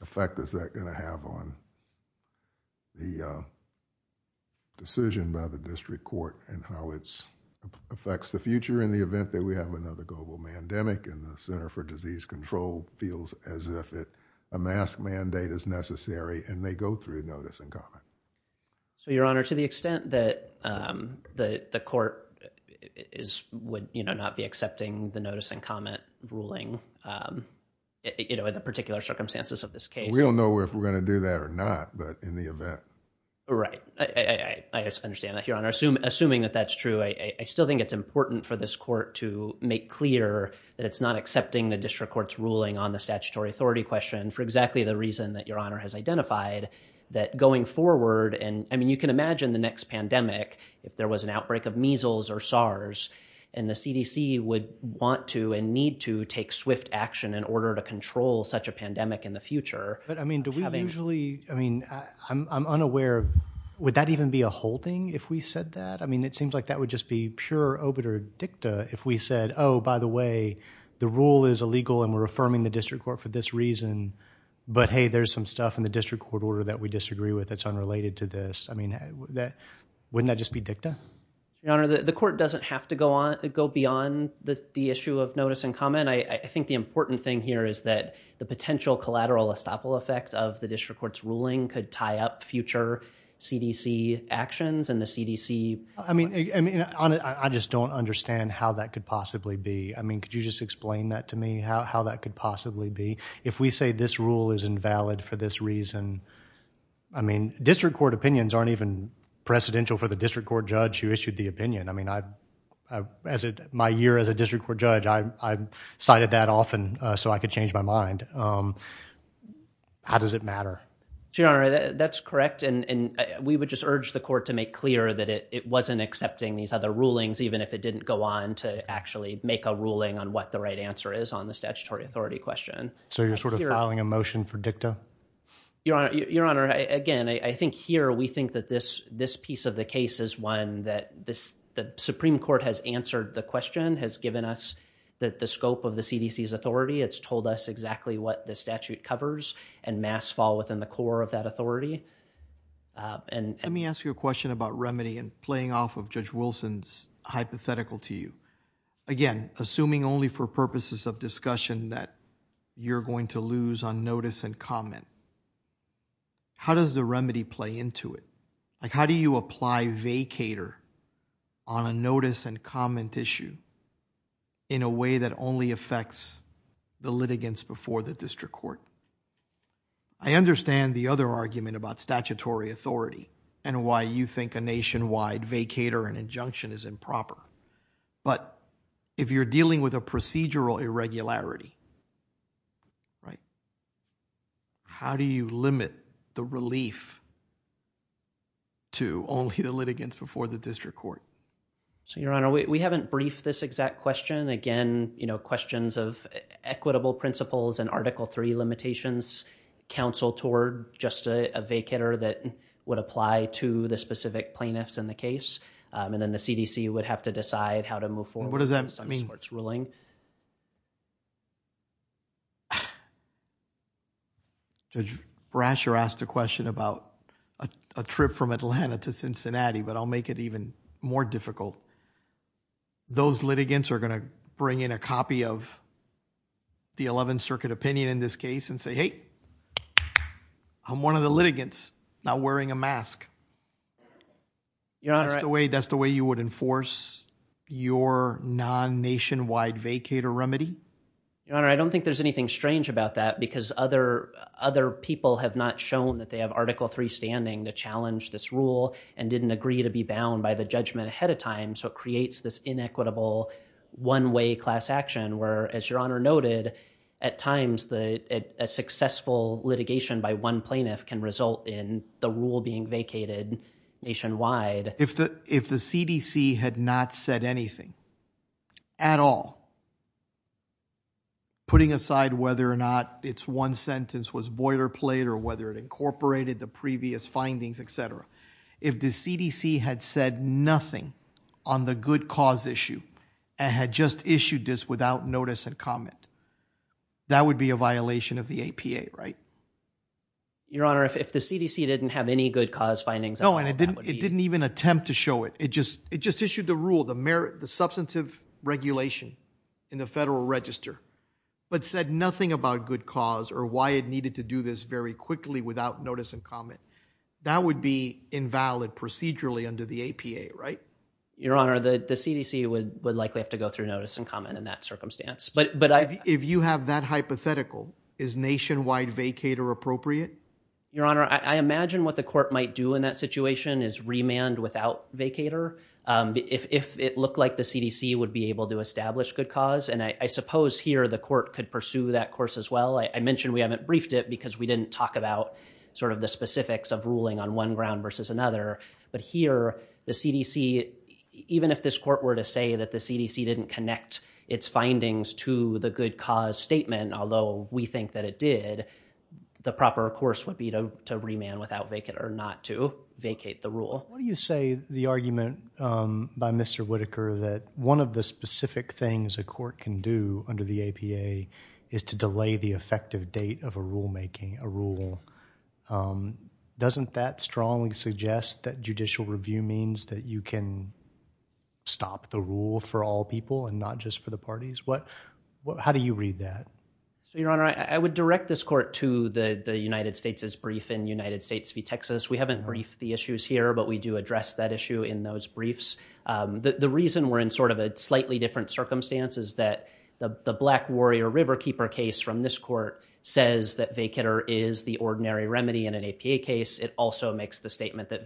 effect is that going to have on the decision by the district court and how it affects the future in the event that we have another global pandemic and the Center for Disease Control feels as if a mask mandate is necessary and they go through a notice and comment. So, Your Honor, to the extent that the court is, would not be accepting the notice and comment ruling in a particular circumstances of this case. We don't know if we're going to do that or not, but in the event. Right. I understand that, Your Honor. Assuming that that's true, I still think it's important for this court to make clear that it's not accepting the district court's ruling on the statutory authority question for exactly the reason that Your Honor has identified, that going forward, and I mean, you can imagine the next pandemic, if there was an outbreak of SARS and the CDC would want to and need to take swift action in order to control such a pandemic in the future. But I mean, do we usually, I mean, I'm unaware, would that even be a holding if we said that? I mean, it seems like that would just be pure obiter dicta if we said, oh, by the way, the rule is illegal and we're affirming the district court for this reason, but hey, there's some stuff in the district court order that we disagree with. It's unrelated to this. I mean, wouldn't that just be dicta? Your Honor, the court doesn't have to go on, go beyond the issue of notice and comment. I think the important thing here is that the potential collateral estoppel effect of the district court's ruling could tie up future CDC actions and the CDC... I mean, I just don't understand how that could possibly be. I mean, could you just explain that to me, how that could possibly be? If we say this rule is invalid for this reason, I mean, district court opinions aren't even precedential for the district court judge who issued the opinion. I mean, my year as a district court judge, I've cited that often so I could change my mind. How does it matter? Your Honor, that's correct. And we would just urge the court to make clear that it wasn't accepting these other rulings, even if it didn't go on to actually make a ruling on what the right answer is on the statutory authority question. So you're sort of filing a motion for dicta? Your Honor, again, I think here we think that this piece of the case is one that the Supreme Court has answered the question, has given us that the scope of the CDC's authority, it's told us exactly what the statute covers and mass fall within the core of that authority. Let me ask you a question about remedy and playing off of Judge Wilson's hypothetical to you. Again, assuming only for purposes of discussion that you're going to lose on notice and comment, how does the remedy play into it? Like, how do you apply vacater on a notice and comment issue in a way that only affects the litigants before the district court? I understand the other argument about statutory authority and why you think a nationwide vacater and injunction is improper. But if you're dealing with a procedural irregularity, how do you limit the relief to only the litigants before the district court? Your Honor, we haven't briefed this exact question. Again, questions of equitable principles and article three limitations, counsel toward just a vacater that would apply to the specific plaintiffs in the case. And then the CDC would have to decide how to move forward. What does that mean? Judge Brasher asked a question about a trip from Atlanta to Cincinnati, but I'll make it even more difficult. Those litigants are going to bring in a copy of the 11th Circuit opinion in this case and say, hey, I'm one of the litigants not wearing a mask. Your Honor- That's the way you would enforce your non-nationwide vacater remedy? Your Honor, I don't think there's anything strange about that because other people have not shown that they have article three standing to challenge this rule and didn't agree to be bound by the judgment ahead of time. So it creates this inequitable one-way class action where, as Your Honor noted, at times a successful litigation by one plaintiff can result in the rule being vacated nationwide. If the CDC had not said anything at all, putting aside whether or not it's one sentence was boilerplate or whether it incorporated the previous findings, et cetera, if the CDC had said nothing on the good cause issue and had just issued this without notice and comment, that would be a violation of the APA, right? Your Honor, if the CDC didn't have any good cause findings- No, it didn't even attempt to show it. It just issued the rule, the substantive regulation in the Federal Register, but said nothing about good cause or why it needed to do this very quickly without notice and comment, that would be invalid procedurally under the APA, right? Your Honor, the CDC would likely have to go through notice and comment in that circumstance. If you have that hypothetical, is nationwide vacator appropriate? Your Honor, I imagine what the court might do in that situation is remand without vacator if it looked like the CDC would be able to establish good cause. And I suppose here the court could pursue that course as well. I mentioned we haven't briefed it because we didn't talk about the specifics of ruling on one ground versus another, but here the CDC, even if this didn't connect its findings to the good cause statement, although we think that it did, the proper course would be to remand without vacator or not to vacate the rule. You say the argument by Mr. Whitaker that one of the specific things a court can do under the APA is to delay the effective date of a rulemaking, a rule. Doesn't that strongly suggest that judicial review means that you can stop the rule for all people and not just for the parties? How do you read that? Your Honor, I would direct this court to the United States' brief in United States v. Texas. We haven't briefed the issues here, but we do address that issue in those briefs. The reason we're in sort of a slightly different circumstance is that the Black Warrior Riverkeeper case from this court says that vacator is the ordinary remedy in an APA case. It also makes the statement that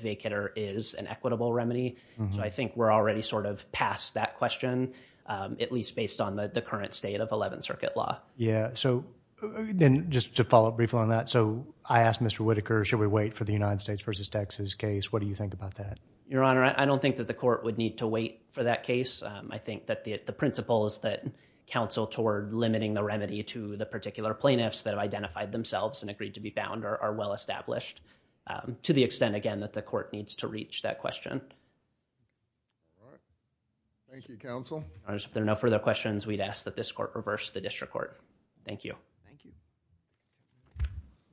I think we're already sort of past that question, at least based on the current state of 11th Circuit law. Just to follow up briefly on that, I asked Mr. Whitaker, should we wait for the United States v. Texas case? What do you think about that? Your Honor, I don't think that the court would need to wait for that case. I think that the principles that counsel toward limiting the remedy to the particular plaintiffs that have identified themselves and agreed to be found are well-established to the extent, again, that the court needs to reach that question. Thank you, counsel. Your Honor, if there are no further questions, we'd ask that this court reverse the district court. Thank you.